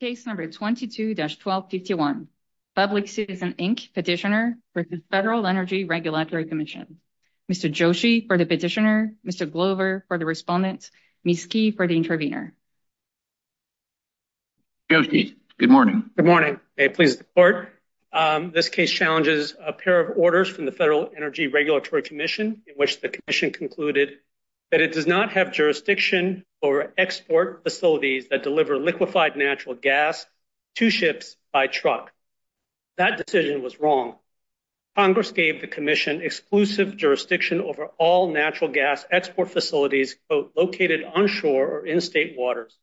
Case number 22-1251, Public Citizen, Inc. Petitioner for the Federal Energy Regulatory Commission. Mr. Joshi for the Petitioner, Mr. Glover for the Respondent, Ms. Key for the Intervener. Joshi, good morning. Good morning. May it please the Court. This case challenges a pair of orders from the Federal Energy Regulatory Commission in which the Commission concluded that it does not have jurisdiction over export facilities that deliver liquefied natural gas to ships by truck. That decision was wrong. Congress gave the Commission exclusive jurisdiction over all natural gas export facilities located on shore or in state waters.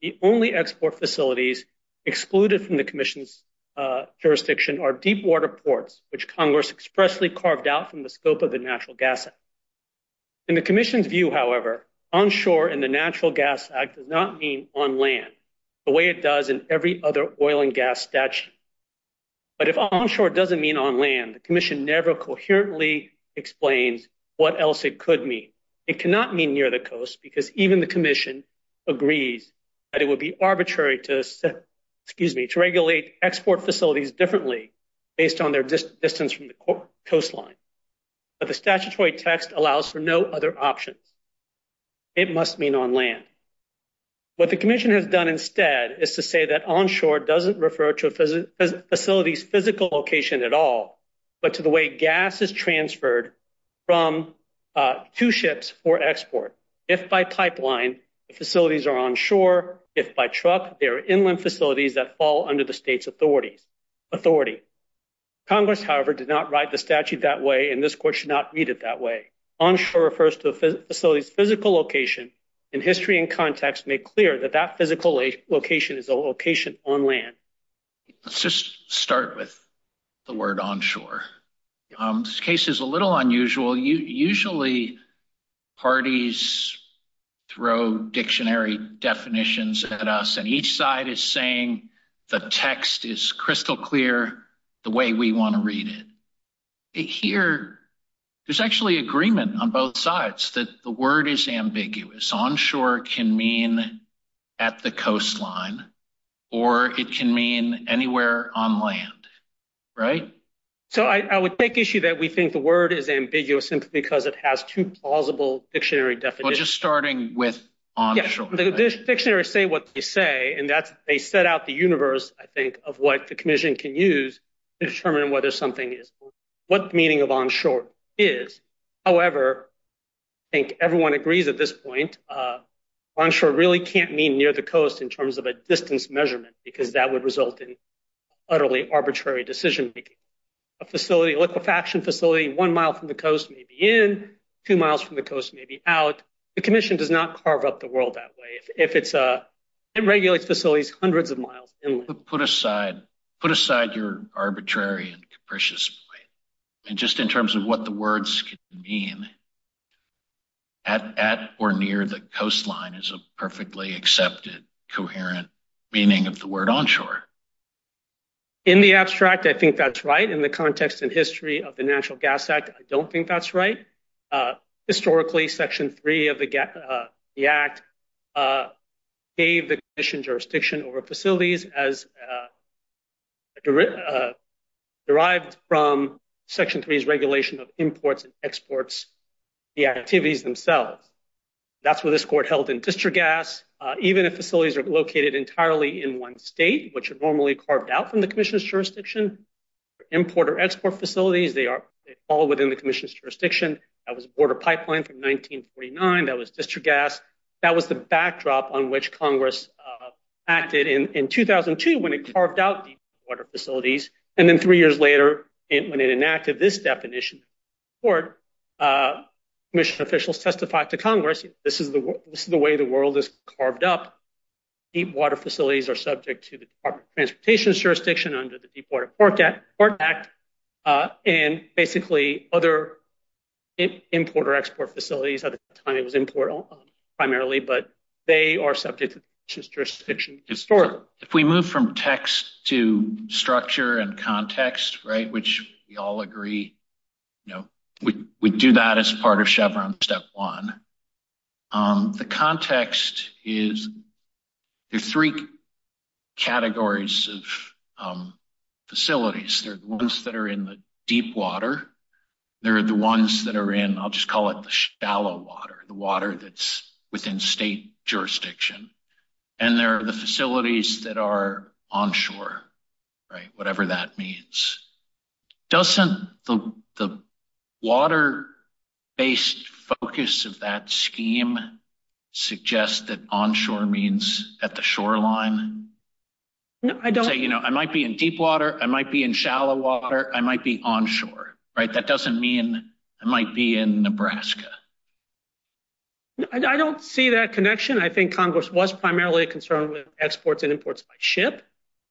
The only export facilities excluded from the Commission's jurisdiction are deep water ports, which Congress expressly carved out from the scope of the Natural Gas Act. In the Commission's view, however, onshore in the Natural Gas Act does not mean on land, the way it does in every other oil and gas statute. But if onshore doesn't mean on land, the Commission never coherently explains what else it could mean. It cannot mean near the coast, because even the Commission agrees that it would be arbitrary to regulate export facilities differently based on their distance from the coastline. But the statutory text allows for no other options. It must mean on land. What the Commission has done instead is to say that onshore doesn't refer to a facility's physical location at all, but to the way gas is transferred from two ships for export. If by pipeline, the facilities are on shore. If by truck, they are inland facilities that fall under the state's authority. Congress, however, did not write the statute that way, and this Court should not read it that way. Onshore refers to a facility's physical location, and history and context make clear that that physical location is a location on land. Let's just start with the word onshore. This case is a little unusual. Usually, parties throw dictionary definitions at us, and each side is saying the text is crystal clear the way we want to read it. Here, there's actually agreement on both sides that the word is ambiguous. Onshore can mean at the coastline, or it can mean anywhere on land, right? So I would take issue that we just started with onshore. The dictionaries say what they say, and they set out the universe, I think, of what the Commission can use to determine what the meaning of onshore is. However, I think everyone agrees at this point, onshore really can't mean near the coast in terms of a distance measurement because that would result in utterly arbitrary decision-making. A facility, a liquefaction facility, one mile from the coast may be in, two miles from the coast may be out, Commission does not carve up the world that way. It regulates facilities hundreds of miles inland. Put aside your arbitrary and capricious point, and just in terms of what the words can mean, at or near the coastline is a perfectly accepted, coherent meaning of the word onshore. In the abstract, I think that's right. In the context and history of the National Gas Act, I don't think that's right. Historically, Section 3 of the Act gave the Commission jurisdiction over facilities as derived from Section 3's regulation of imports and exports, the activities themselves. That's what this Court held in District Gas. Even if facilities are located entirely in one state, which are normally carved out from the Commission's facilities, they are all within the Commission's jurisdiction. That was Border Pipeline from 1949. That was District Gas. That was the backdrop on which Congress acted in 2002 when it carved out deep water facilities. Then three years later, when it enacted this definition, Commission officials testified to Congress, this is the way the world is carved up. Deep water facilities are subject to the Department of Transportation's jurisdiction under the Deep Water Port Act and basically other import or export facilities. At the time, it was import primarily, but they are subject to the Commission's jurisdiction historically. If we move from text to structure and context, which we all agree, we do that as part of Chevron Step 1. The context is there are three categories of facilities. There are the ones that are in the deep water, there are the ones that are in, I'll just call it the shallow water, the water that's within state jurisdiction, and there are the facilities that are onshore, whatever that means. Doesn't the water-based focus of that scheme suggest that onshore means at the shoreline? Say, I might be in deep water, I might be in shallow water, I might be onshore. That doesn't mean I might be in Nebraska. I don't see that connection. I think Congress was primarily concerned with exports and imports by ship.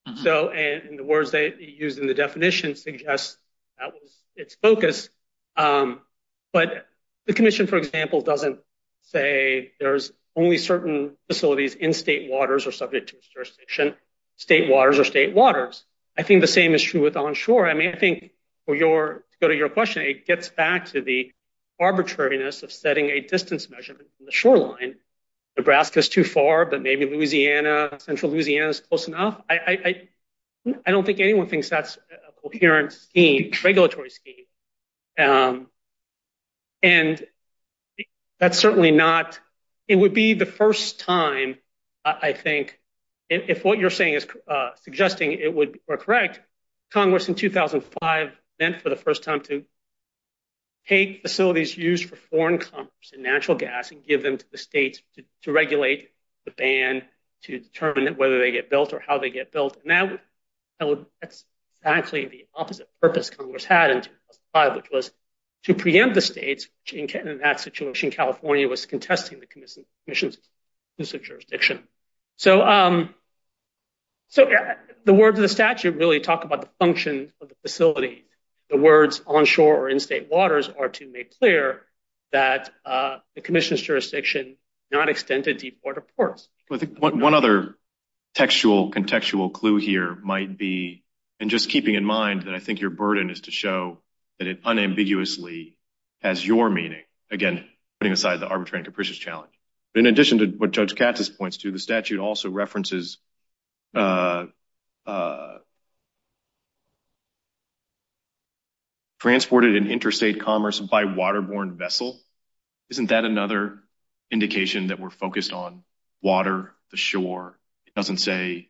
The words they used in the definition suggest that was its focus. But the Commission, for example, doesn't say there's only certain facilities in state waters or subject to jurisdiction, state waters or state waters. I think the same is true with onshore. I think, to go to your question, it gets back to the arbitrariness of setting a distance measurement from the shoreline. Nebraska is too far, but maybe Louisiana, central Louisiana is close enough. I don't think anyone thinks that's a I think if what you're suggesting is correct, Congress in 2005 meant for the first time to take facilities used for foreign commerce and natural gas and give them to the states to regulate the ban, to determine whether they get built or how they get built. That's exactly the opposite purpose Congress had in 2005, which was to preempt the states. In that situation, California was contesting the Commission's jurisdiction. So the words of the statute really talk about the function of the facility. The words onshore or in state waters are to make clear that the Commission's jurisdiction not extended to port of ports. I think one other contextual clue here might be, and just keeping in mind that I think it unambiguously has your meaning, again, putting aside the arbitrary and capricious challenge. In addition to what Judge Katz's points to, the statute also references transported in interstate commerce by waterborne vessel. Isn't that another indication that we're focused on water, the shore? It doesn't say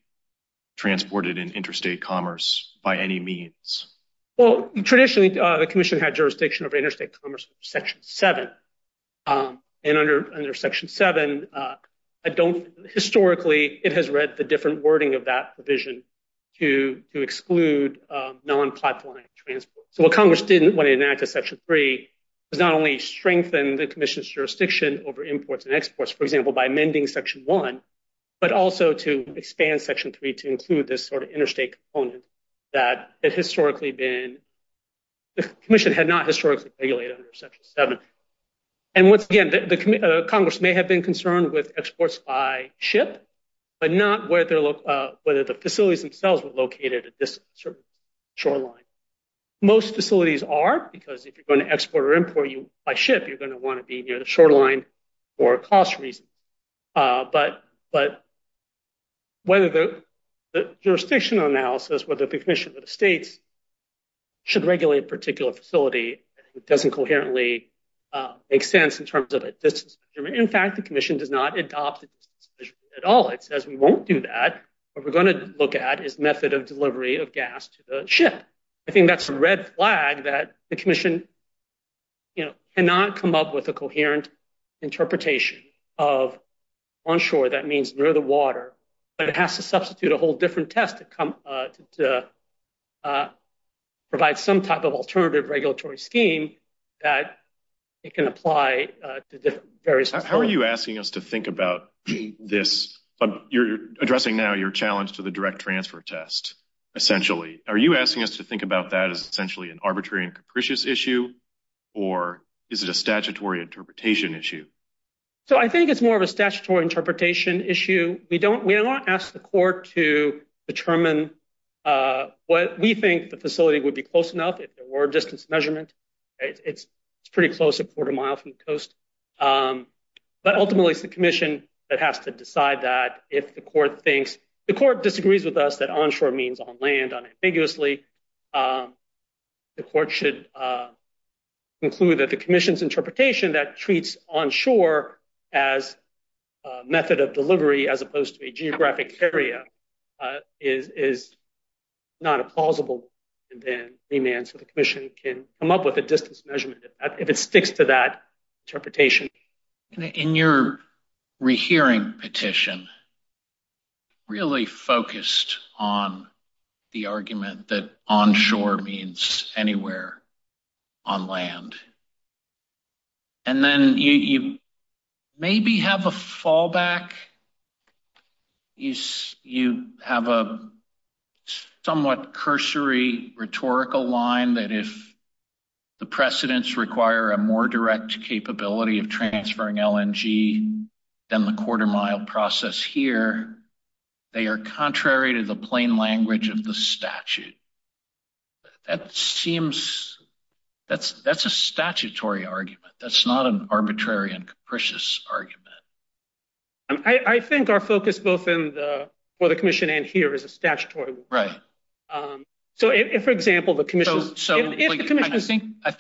transported in interstate commerce by any means. Well, traditionally, the Commission had jurisdiction over interstate commerce under Section 7. And under Section 7, historically, it has read the different wording of that provision to exclude non-pipeline transport. So what Congress didn't want to enact in Section 3 was not only strengthen the Commission's jurisdiction over imports and exports, for example, by amending Section 1, but also to expand Section 3 to include this sort of thing. The Commission had not historically regulated under Section 7. And once again, Congress may have been concerned with exports by ship, but not whether the facilities themselves were located at this shoreline. Most facilities are, because if you're going to export or import by ship, you're going to want to be near the shoreline for cost reasons. But whether the jurisdictional analysis, whether the Commission or the states should regulate a particular facility, it doesn't coherently make sense in terms of a distance measurement. In fact, the Commission does not adopt the distance measurement at all. It says we won't do that. What we're going to look at is method of delivery of gas to the ship. I think that's a red flag that the Commission cannot come up with a coherent interpretation of onshore. That means near the to provide some type of alternative regulatory scheme that it can apply to different areas. How are you asking us to think about this? You're addressing now your challenge to the direct transfer test, essentially. Are you asking us to think about that as essentially an arbitrary and capricious issue? Or is it a statutory interpretation issue? So I think it's more of a statutory interpretation issue. We don't ask the Commission to determine what we think the facility would be close enough if there were distance measurement. It's pretty close, a quarter mile from the coast. But ultimately, it's the Commission that has to decide that. The Court disagrees with us that onshore means on land unambiguously. The Court should conclude that the Commission's interpretation that treats onshore as a method of delivery as opposed to a geographic area is not a plausible demand. So the Commission can come up with a distance measurement if it sticks to that interpretation. In your rehearing petition, really focused on the argument that onshore means anywhere on land. And then you maybe have a fallback. You have a somewhat cursory rhetorical line that if the precedents require a more direct capability of transferring LNG than the quarter mile. That's a statutory argument. That's not an arbitrary and capricious argument. I think our focus both for the Commission and here is a statutory one. I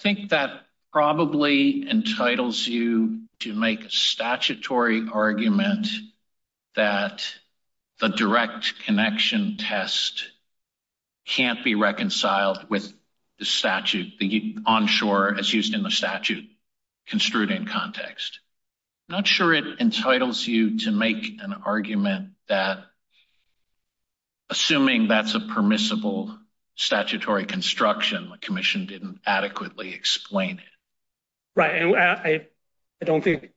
think that probably entitles you to make a statutory argument that the direct connection test can't be reconciled with the statute. The onshore as used in the statute construed in context. I'm not sure it entitles you to make an argument that assuming that's a permissible statutory construction, the Commission didn't adequately explain it. Right. I don't think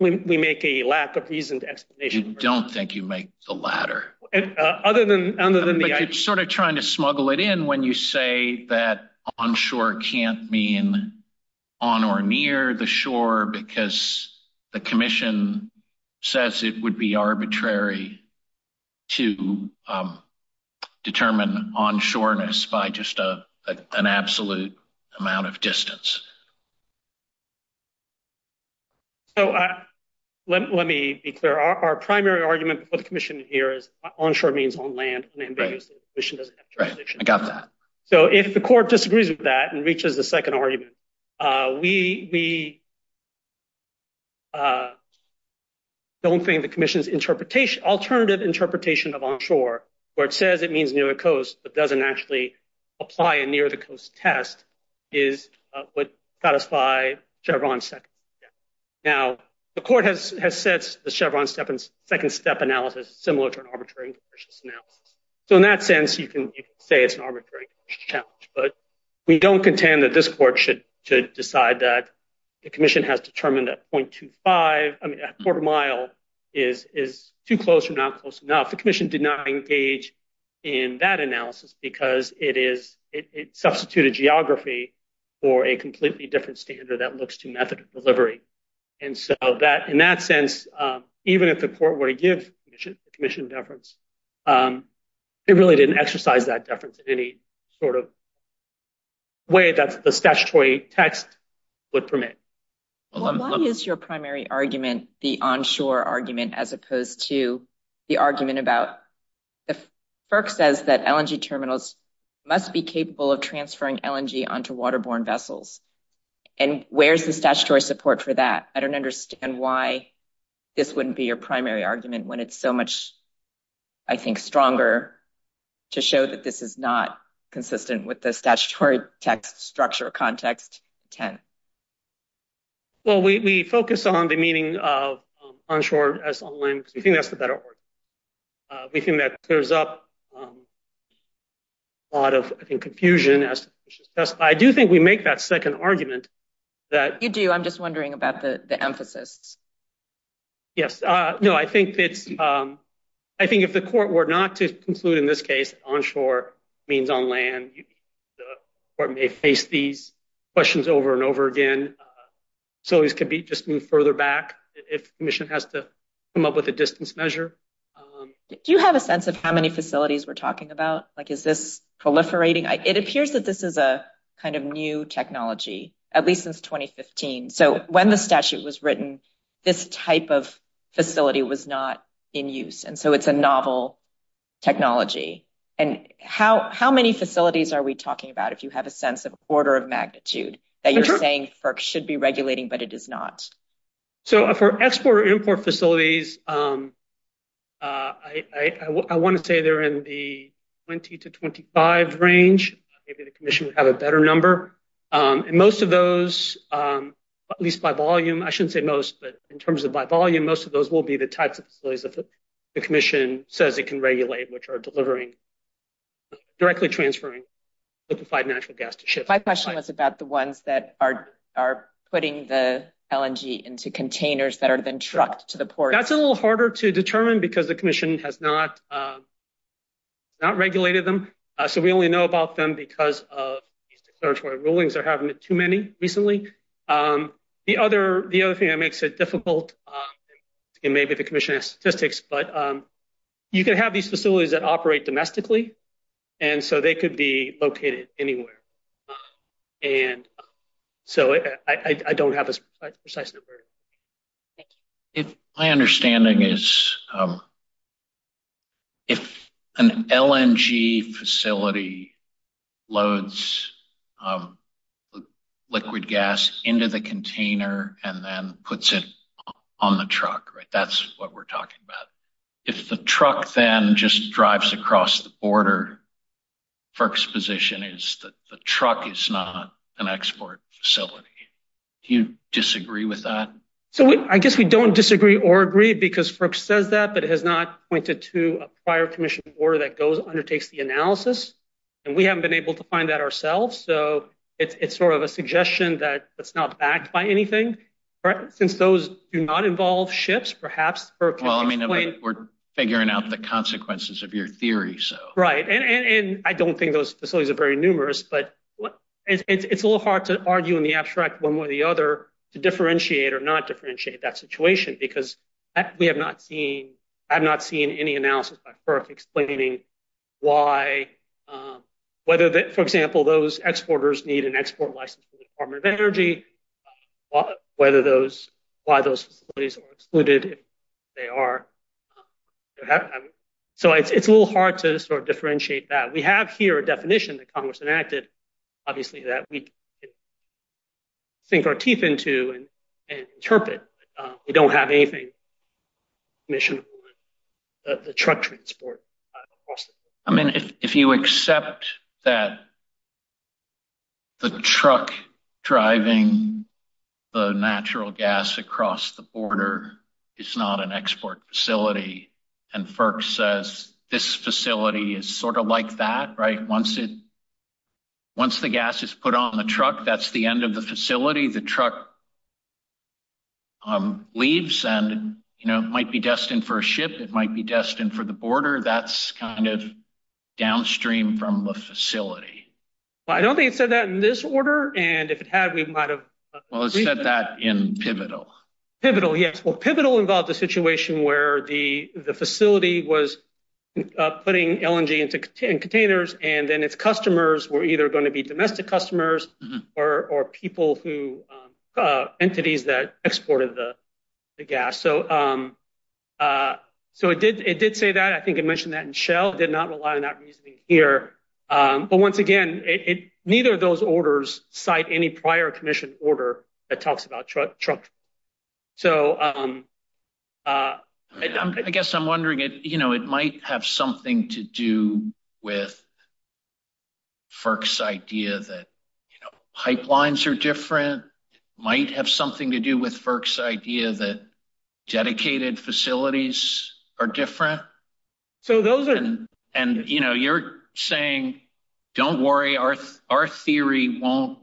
we make a lack of reason to explanation. You don't think you make the latter. It's sort of trying to smuggle it in when you say that onshore can't mean on or near the shore because the Commission says it would be arbitrary to determine onshoreness by just an absolute amount of distance. So let me be clear. Our primary argument for the Commission here is onshore means on land. So if the court disagrees with that and reaches the second argument, we don't think the Commission's alternative interpretation of onshore where it says it would satisfy Chevron's second step. Now, the court has set the Chevron's second step analysis similar to an arbitrary analysis. So in that sense, you can say it's an arbitrary challenge. But we don't contend that this court should decide that the Commission has determined that 0.25, I mean, a quarter mile is too close or not close enough. The Commission did not engage in that analysis because it substituted geography for a completely different standard that looks to method of delivery. And so in that sense, even if the court were to give the Commission deference, they really didn't exercise that deference in any sort of way that the statutory text would permit. Well, why is your primary argument the onshore argument as opposed to the argument about the FERC says that LNG terminals must be capable of transferring LNG onto waterborne vessels? And where's the statutory support for that? I don't understand why this wouldn't be your primary argument when it's so much, I think, stronger to show that this is not consistent with the statutory text structure context 10. Well, we focus on the meaning of that argument. We think that clears up a lot of confusion. I do think we make that second argument that you do. I'm just wondering about the emphasis. Yes. No, I think it's I think if the court were not to conclude in this case, onshore means on land or may face these questions over and over again. So it could be just move further back if the Commission has to come up with a distance measure. Do you have a sense of how many facilities we're talking about? Like, is this proliferating? It appears that this is a kind of new technology, at least since 2015. So when the statute was written, this type of facility was not in use. And so it's a novel technology. And how many facilities are we talking about? If you have a sense of order of magnitude that you're saying should be regulating, but it is not. So for export import facilities, I want to say they're in the 20 to 25 range. Maybe the Commission would have a better number. And most of those, at least by volume, I shouldn't say most, but in terms of by volume, most of those will be the types of facilities that the Commission says it can regulate, which are delivering directly transferring liquefied natural gas to ship. My question was about the ones that are putting the LNG into containers that are then trucked to the port. That's a little harder to determine because the Commission has not regulated them. So we only know about them because of these declaratory rulings. They're having too many recently. The other thing that makes it difficult, and maybe the Commission has statistics, but you can have these facilities that operate domestically. And so they could be located anywhere. And so I don't have a precise number. My understanding is if an LNG facility loads liquid gas into the container and then puts it on the truck, that's what we're talking about. If the truck then just drives across the border, FERC's position is that the truck is not an export facility. Do you disagree with that? So I guess we don't disagree or agree because FERC says that, but it has not pointed to a prior Commission order that undertakes the analysis. And we haven't been able to find that ourselves. So it's sort of a suggestion that it's not backed by anything. Since those do not involve ships, perhaps... Well, I mean, we're figuring out the consequences of your theory. Right. And I don't think those facilities are very numerous, but it's a little hard to argue in the abstract one way or the other to differentiate or not differentiate that situation because I have not seen any analysis by FERC explaining why, for example, those exporters need an export license for the Department of Energy, why those facilities are excluded if they are. So it's a little hard to sort of differentiate that. We have here a definition that Congress enacted, obviously, that we sink our teeth into and interpret. We don't have anything commissionable about the truck transport. I mean, if you accept that the truck driving the natural gas across the border is not an export facility and FERC says this facility is sort of like that, right? Once the gas is put on the truck, that's the facility. The truck leaves and it might be destined for a ship. It might be destined for the border. That's kind of downstream from the facility. Well, I don't think it said that in this order. And if it had, we might have... Well, it said that in Pivotal. Pivotal, yes. Well, Pivotal involved a situation where the facility was putting LNG into containers and then its customers were either going to be people who... Entities that exported the gas. So it did say that. I think it mentioned that in Shell. It did not rely on that reasoning here. But once again, neither of those orders cite any prior commission order that talks about truck... So... I guess I'm wondering, it might have something to do with FERC's idea that pipelines are different. It might have something to do with FERC's idea that dedicated facilities are different. So those are... And you're saying, don't worry, our theory won't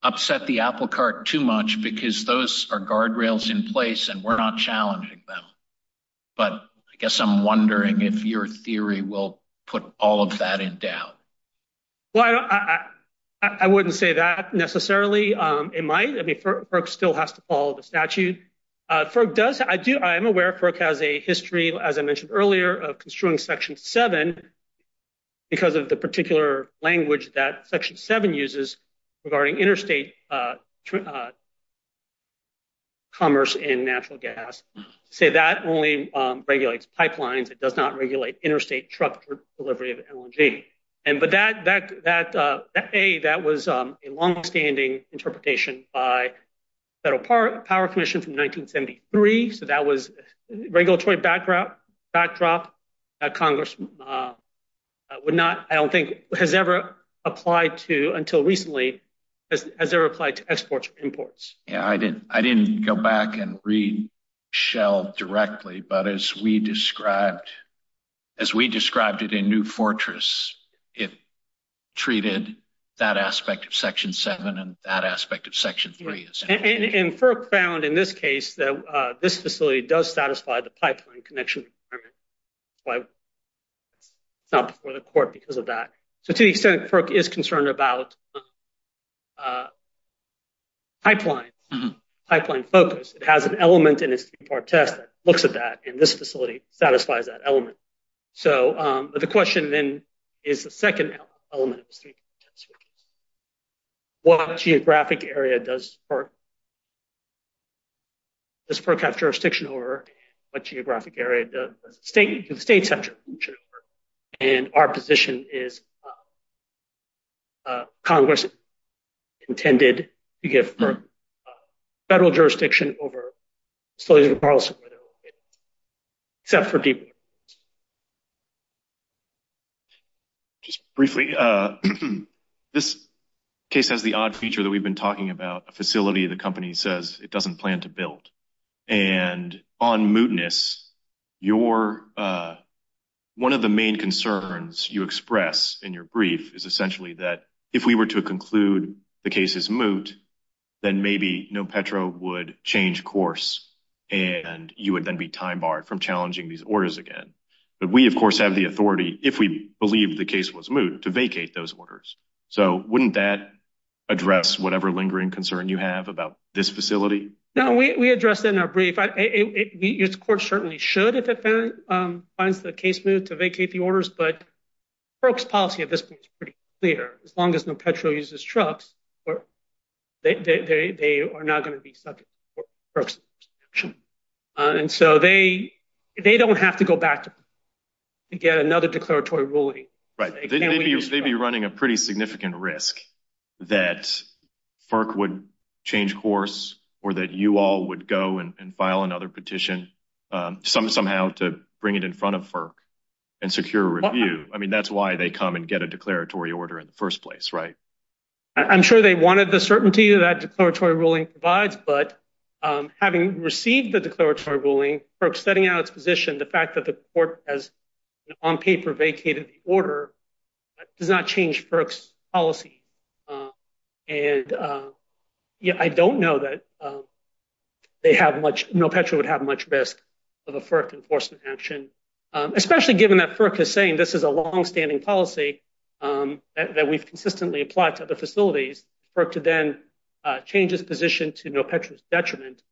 upset the apple cart too much because those are guardrails in place and we're not challenging them. But I guess I'm wondering if your theory will put all of that in doubt. Well, I wouldn't say that necessarily. It might. I mean, FERC still has to follow the statute. FERC does... I'm aware FERC has a history, as I mentioned earlier, of construing Section 7 because of the particular language that Section 7 uses regarding interstate truck... Commerce in natural gas. So that only regulates pipelines. It does not regulate interstate truck delivery of energy. But that, A, that was a longstanding interpretation by Federal Power Commission from 1973. So that was regulatory backdrop that Congress would not... I don't think has ever applied to, until recently, has ever applied to exports or imports. Yeah, I didn't go back and read Shell directly, but as we described it in New Fortress, it treated that aspect of Section 7 and that aspect of Section 3. And FERC found in this case that this facility does satisfy the three-part test. It's not before the court because of that. So to the extent FERC is concerned about pipelines, pipeline focus, it has an element in its three-part test that looks at that, and this facility satisfies that element. So the question then is the second element of the three-part test, which is what geographic area does FERC have jurisdiction over and what geographic area does Congress have jurisdiction over? And our position is Congress intended to give FERC federal jurisdiction over facilities in Carlson where they're located, except for Deepwater. Just briefly, this case has the odd feature that we've been talking about. A facility the company says it doesn't plan to build. And on mootness, one of the main concerns you express in your brief is essentially that if we were to conclude the case is moot, then maybe Nopetro would change course and you would then be time barred from challenging these orders again. But we, of course, have the authority, if we believe the case was moot, to vacate those orders. So wouldn't that address whatever lingering concern you have about this facility? No, we addressed it in our brief. The court certainly should, if it finds the case moot, to vacate the orders. But FERC's policy at this point is pretty clear. As long as Nopetro uses trucks, they are not going to be subject to FERC's jurisdiction. And so they don't have to go back to get another declaratory ruling. They may be running a pretty significant risk that FERC would change course or that you all would go and file another petition somehow to bring it in front of FERC and secure a review. I mean, that's why they come and get a declaratory order in the first place, right? I'm sure they wanted the certainty that declaratory ruling provides. But having received the declaratory ruling, FERC's setting out its position, the fact that the court has on paper vacated the order does not change FERC's policy. And I don't know that Nopetro would have much risk of a FERC enforcement action, especially given that FERC is saying this is a longstanding policy that we've consistently applied to other facilities. FERC to then change its position to Nopetro's detriment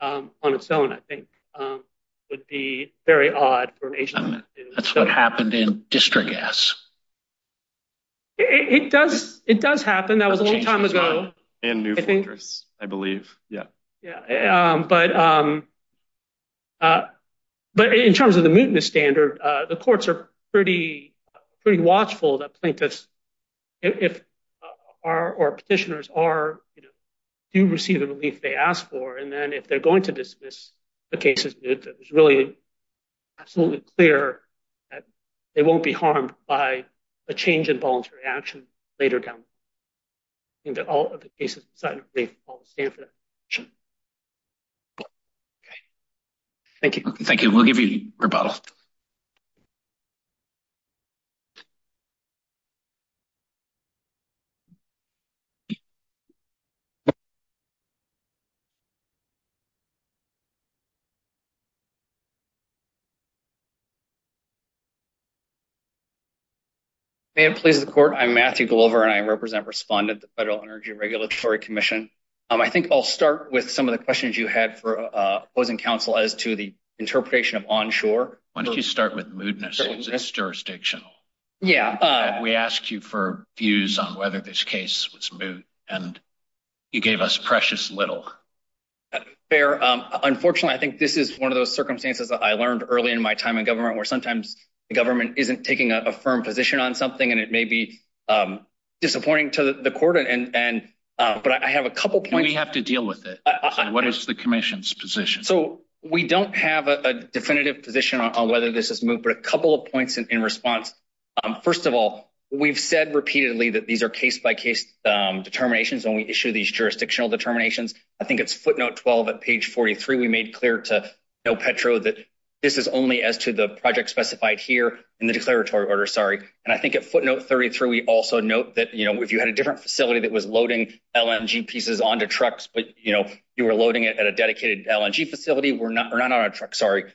on its own, I think, would be very odd. That's what happened in District S. It does happen. That was a long time ago. And New Fortress, I believe. Yeah. But in terms of the mootness standard, the courts are pretty watchful that plaintiffs or petitioners do receive the relief they ask for. And then if they're going to dismiss the cases, it's really absolutely clear that they won't be harmed by a change in voluntary action later down the road. I think that all of the cases decidedly fall to the standard. Okay. Thank you. Thank you. We'll give you rebuttal. May it please the Court. I'm Matthew Glover, and I represent and respond to the Federal Energy Regulatory Commission. I think I'll start with some of the questions you had for opposing counsel as to the interpretation of onshore. Why don't you start with mootness? It's jurisdictional. Yeah. We asked you for views on whether this case was moot, and you gave us precious little. Fair. Unfortunately, I think this is one of those circumstances I learned early in my time in government, where sometimes the government isn't taking a firm position on something, and it may be disappointing to the court. But I have a couple points. We have to deal with it. What is the Commission's position? So, we don't have a definitive position on whether this is moot, but a couple of points in response. First of all, we've said repeatedly that these are case-by-case determinations when we issue these jurisdictional determinations. I think it's footnote 12 at page 43. We made clear to Petro that this is only as to the project specified here in the declaratory order. And I think at footnote 33, we also note that if you had a different facility that was loading LNG pieces onto trucks, but you were loading it at a dedicated LNG facility, we're not addressing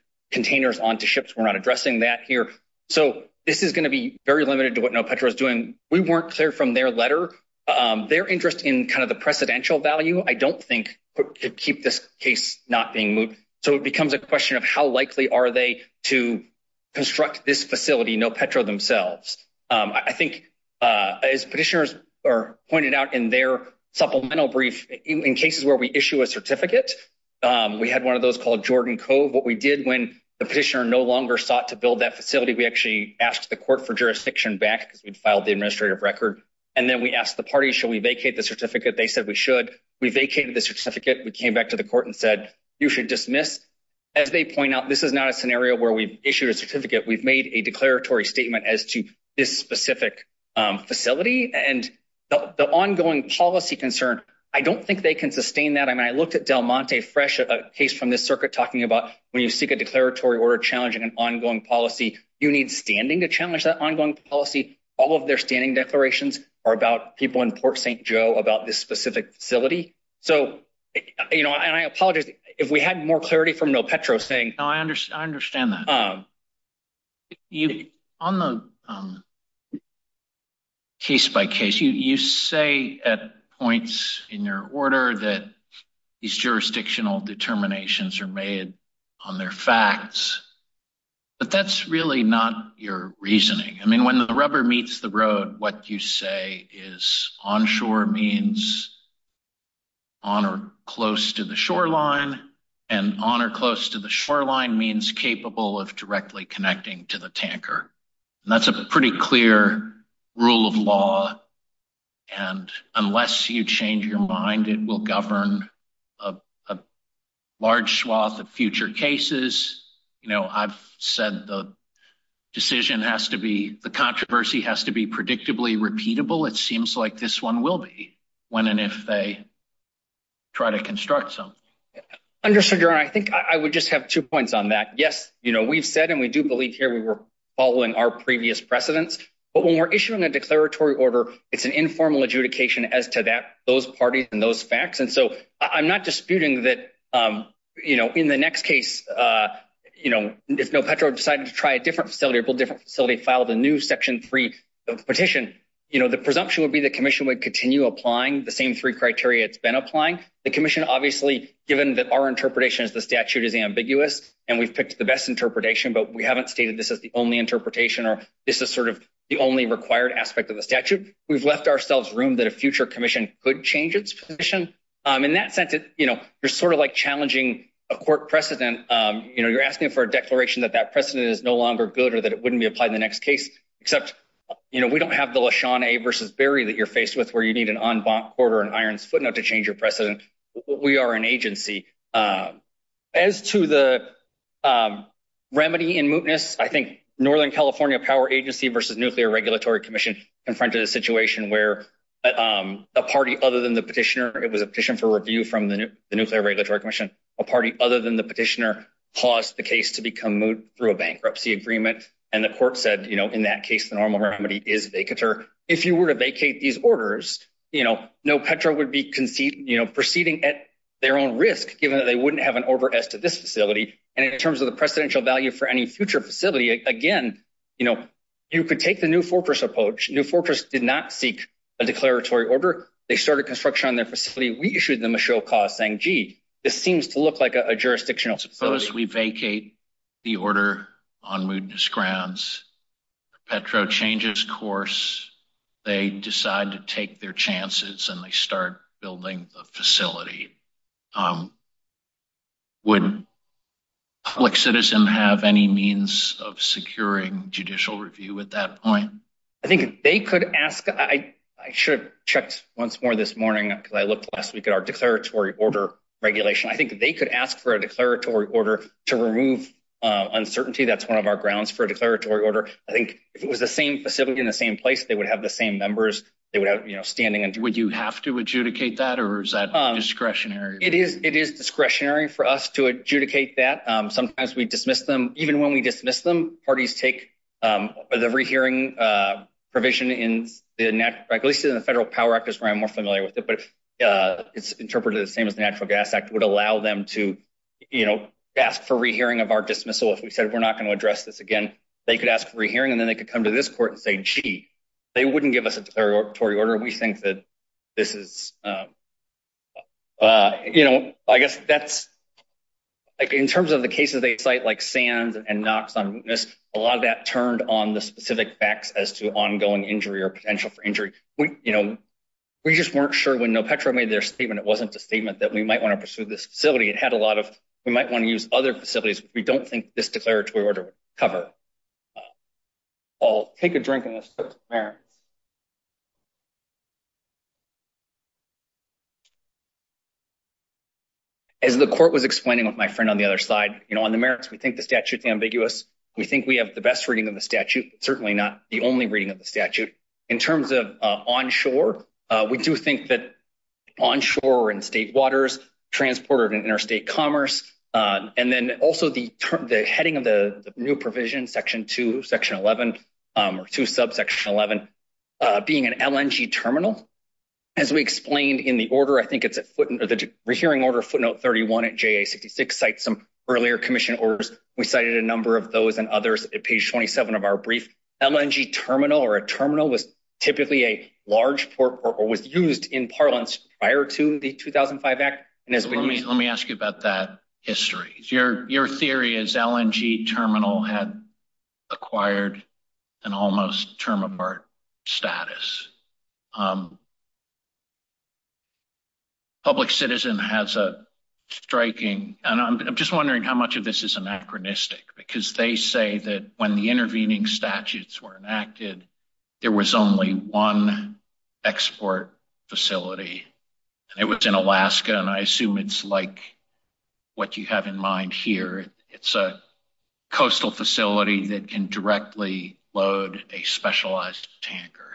that here. So, this is going to be very limited to what Petro is doing. We weren't clear from their letter. Their interest in kind of the precedential value, I don't think, could keep this case not being moot. So, it becomes a question of how likely are they to construct this facility, no Petro themselves. I think as petitioners pointed out in their supplemental brief, in cases where we issue a certificate, we had one of those called Jordan Cove. What we did when the petitioner no longer sought to build that facility, we actually asked the court for jurisdiction back because we'd filed the administrative record. And then we asked the party, shall we vacate the certificate? They said we should. We vacated the certificate. We came back to the court and said, you should dismiss. As they point out, this is not a scenario where we issued a certificate. We've made a declaratory statement as to this specific facility. And the ongoing policy concern, I don't think they can sustain that. I mean, Del Monte Fresh, a case from this circuit talking about when you seek a declaratory order challenging an ongoing policy, you need standing to challenge that ongoing policy. All of their standing declarations are about people in Port St. Joe about this specific facility. So, you know, and I apologize if we had more clarity from no Petro saying. No, I understand that. On the case by case, you say at points in your order that these jurisdictional determinations are made on their facts, but that's really not your reasoning. I mean, when the rubber meets the road, what you say is onshore means on or close to the shoreline and on or close to the directly connecting to the tanker. And that's a pretty clear rule of law. And unless you change your mind, it will govern a large swath of future cases. You know, I've said the decision has to be the controversy has to be predictably repeatable. It seems like this one will be when and if they try to construct something. I think I would just have two points on that. Yes, we've said and we do believe here we were following our previous precedents. But when we're issuing a declaratory order, it's an informal adjudication as to that those parties and those facts. And so I'm not disputing that, you know, in the next case, you know, if no Petro decided to try a different facility, a different facility filed a new section three petition, you know, the presumption would be the commission would continue applying the same three criteria. It's been applying the commission, obviously, given that our interpretation is ambiguous, and we've picked the best interpretation, but we haven't stated this is the only interpretation or this is sort of the only required aspect of the statute. We've left ourselves room that a future commission could change its position. In that sense, you know, you're sort of like challenging a court precedent. You know, you're asking for a declaration that that precedent is no longer good or that it wouldn't be applied in the next case. Except, you know, we don't have the LaShawn versus Barry that you're faced with where you need an iron's footnote to change your precedent. We are an agency. As to the remedy in mootness, I think Northern California Power Agency versus Nuclear Regulatory Commission confronted a situation where a party other than the petitioner, it was a petition for review from the Nuclear Regulatory Commission, a party other than the petitioner caused the case to become moot through a bankruptcy agreement. And the court said, you know, in that case, the normal remedy is vacator. If you were to vacate these orders, you know, Petro would be proceeding at their own risk given that they wouldn't have an order as to this facility. And in terms of the precedential value for any future facility, again, you know, you could take the New Fortress approach. New Fortress did not seek a declaratory order. They started construction on their facility. We issued them a show cause saying, gee, this seems to look like a jurisdictional facility. Suppose we vacate the order on mootness grounds, Petro changes course, they decide to take their chances and they start building the facility. Would a public citizen have any means of securing judicial review at that point? I think they could ask, I should have checked once more this morning because I looked last week at our declaratory order regulation. I think they could ask for a uncertainty. That's one of our grounds for a declaratory order. I think if it was the same facility in the same place, they would have the same members. They would have, you know, standing. Would you have to adjudicate that or is that discretionary? It is discretionary for us to adjudicate that. Sometimes we dismiss them. Even when we dismiss them, parties take the rehearing provision in the, at least in the Federal Power Act is where I'm more familiar with it, but it's interpreted the same as the Natural Gas Act would allow them to, you know, ask for dismissal if we said we're not going to address this again. They could ask for a hearing and then they could come to this court and say, gee, they wouldn't give us a declaratory order. We think that this is, you know, I guess that's like in terms of the cases they cite like Sands and Knox on mootness, a lot of that turned on the specific facts as to ongoing injury or potential for injury. We, you know, we just weren't sure when Petro made their statement, it wasn't a statement that we might want to pursue this facility. It had a lot of, we might want to use other facilities. We don't think this declaratory order would cover. I'll take a drink and let's go to the merits. As the court was explaining with my friend on the other side, you know, on the merits, we think the statute is ambiguous. We think we have the best reading of the statute, certainly not the only reading of the statute. In terms of onshore, we do think that onshore and state waters, transporter and interstate commerce, and then also the heading of the new provision, section 2, section 11, or 2 subsection 11, being an LNG terminal. As we explained in the order, I think it's a footnote, the hearing order footnote 31 at JA66 cites some earlier commission orders. We cited a number of those and others at page 27 of our brief. LNG terminal or a terminal was typically a large port or was used in parlance prior to the 2005 act. Let me ask you about that history. Your theory is LNG terminal had acquired an almost term apart status. Public citizen has a striking, and I'm just wondering how much of this is anachronistic because they say that when the intervening statutes were enacted, there was only one export facility. It was in Alaska, and I assume it's like what you have in mind here. It's a coastal facility that can directly load a specialized tanker.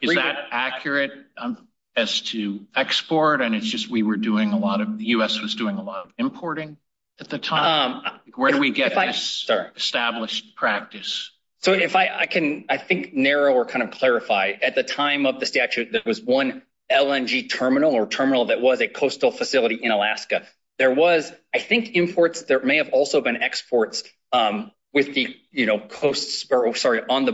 Is that accurate as to export? The U.S. was doing a lot of importing at the time. Where do we get this established practice? I can narrow or clarify. At the time of the statute, there was one LNG terminal or terminal that was a coastal facility in Alaska. There was, I think, imports. There may have also been exports on the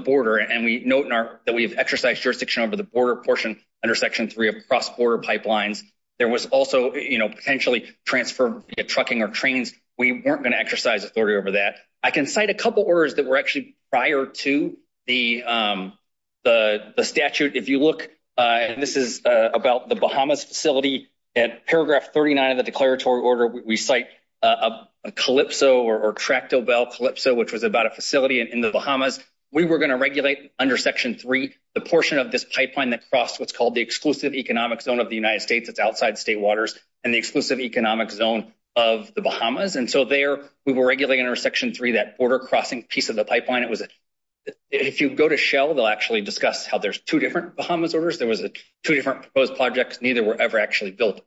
border, and we note that we've exercised jurisdiction over the border portion under section 3 of cross-border pipelines. There was also potentially transfer of trucking or trains. We weren't going to exercise authority over that. I can cite a couple orders that were actually prior to the statute. If you look, this is about the Bahamas facility. At paragraph 39 of the declaratory order, we cite a Calypso or tractable Calypso, which was about a facility in the Bahamas. We were going to regulate under section 3 the portion of this pipeline that crossed what's called the exclusive economic zone of the United States. It's outside state waters and the exclusive economic zone of the Bahamas. There, we were regulating under section 3 that border crossing piece of the pipeline. If you go to Shell, they'll actually discuss how there's two different Bahamas orders. There was two different proposed projects. Neither were ever actually built.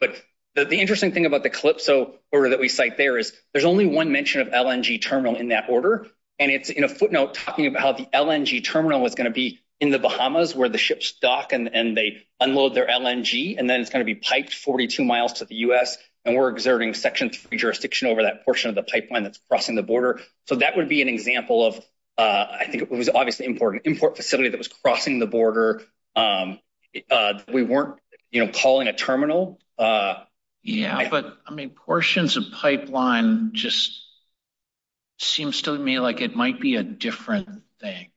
The interesting thing about the Calypso order that we cite there is there's only one mention of LNG terminal in that order. It's in a footnote talking about how the LNG terminal was going to be in the Bahamas where the ships dock and they unload their LNG. Then it's going to be piped 42 miles to the US. We're exerting section 3 jurisdiction over that portion of the pipeline that's crossing the border. That would be an example of, I think it was obviously important, import facility that was crossing the border. We weren't calling a terminal. Yeah, but portions of pipeline just seems to me like it might be a different thing.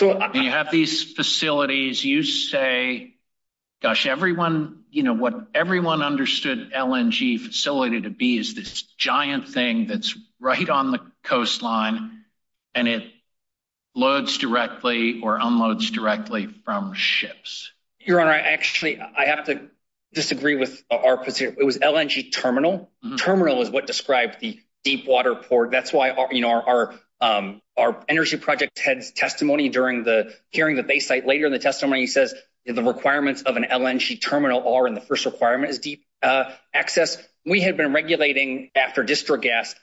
You have these facilities. You say, gosh, what everyone understood LNG facility to be is this giant thing that's right on the coastline and it loads directly or unloads directly from ships. Your Honor, actually, I have to disagree with our position. It was LNG terminal. Terminal is what testimony during the hearing that they cite later in the testimony. He says the requirements of an LNG terminal are in the first requirement is deep access. We had been regulating after district gas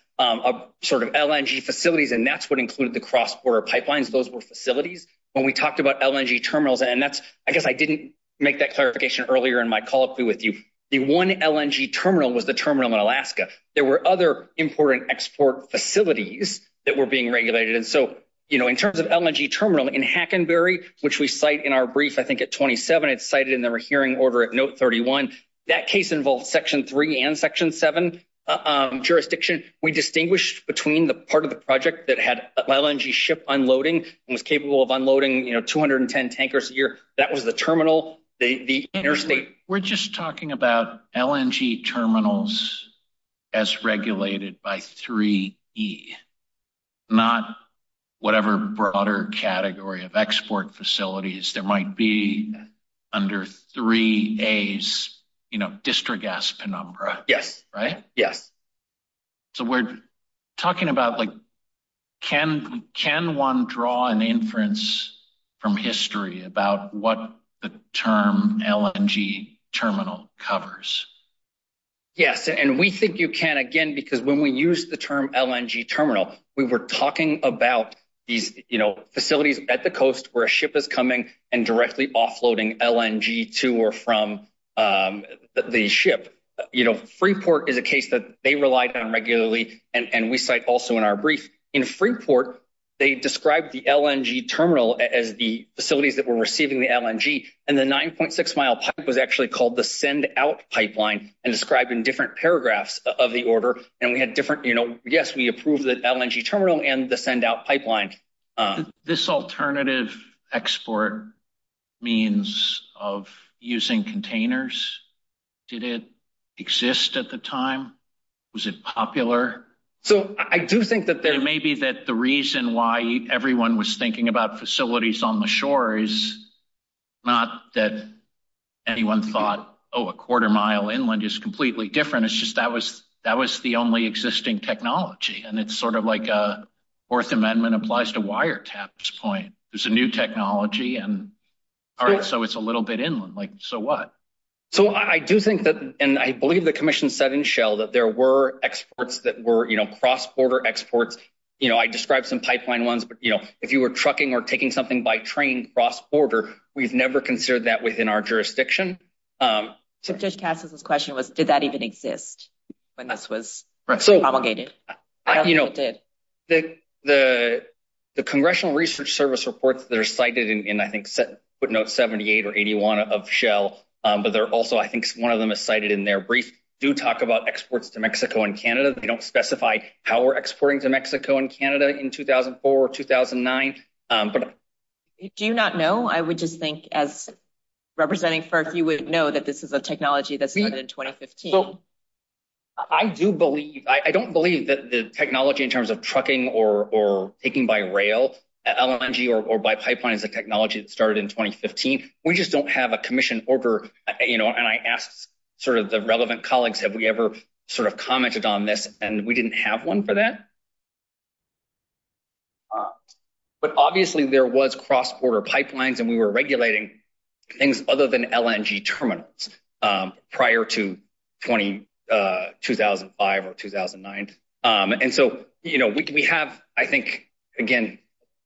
sort of LNG facilities and that's what included the cross-border pipelines. Those were facilities when we talked about LNG terminals. I guess I didn't make that clarification earlier in my call with you. The one LNG terminal was the terminal in Alaska. There were other important export facilities that were being regulated. In terms of LNG terminal in Hackenberry, which we cite in our brief, I think at 27, it's cited in the hearing order at note 31. That case involved section three and section seven jurisdiction. We distinguished between the part of the project that had LNG ship unloading and was capable of unloading 210 tankers a year. That was the terminal, the interstate. We're just talking about LNG terminals as regulated by 3E, not whatever broader category of export facilities there might be under 3A's district gas penumbra. We're talking about can one draw an inference from history about what the term LNG terminal covers? Yes, and we think you can again because when we use the term LNG terminal, we were talking about these facilities at the coast where a ship is coming and directly offloading LNG to or from the ship. Freeport is a case that they relied on regularly and we cite also in our brief. In Freeport, they described the LNG terminal as the facilities that were receiving the LNG and the 9.6 mile pipe was actually called the send out pipeline and described in different paragraphs of the order. Yes, we approved the LNG terminal and the send out pipeline. This alternative export means of using containers, did it exist at the time? Was it popular? So I do think that there may be that the reason why everyone was thinking about facilities on the shore is not that anyone thought, oh, a quarter mile inland is completely different. It's just that was that was the only existing technology and it's sort of like a Fourth Amendment applies to wire taps point. There's a new technology and all right, so it's a little bit inland like so what? So I do think that and I believe the commission said in Shell that there were exports that were cross-border exports. I described some pipeline ones, but if you were trucking or taking something by train cross-border, we've never considered that within our jurisdiction. So Judge Cassis' question was, did that even exist when this was promulgated? You know, the Congressional Research Service reports that are cited in, I think, footnote 78 or 81 of Shell, but they're also, I think one of them is cited in their brief, do talk about exports to Mexico and Canada. They don't specify how we're exporting to Mexico and Canada in 2004 or 2009. Do you not know? I would just think as representing for if you would know that this is a technology that started in 2015. I do believe, I don't believe that the technology in terms of trucking or taking by rail, LNG or by pipeline is a technology that started in 2015. We just don't have a commission order, you know, and I asked sort of the relevant colleagues, have we ever sort of commented on this? And we didn't have one for that. But obviously there was cross-border pipelines and we were regulating things other than LNG terminals prior to 2005 or 2009. And so, you know, we have, I think, again,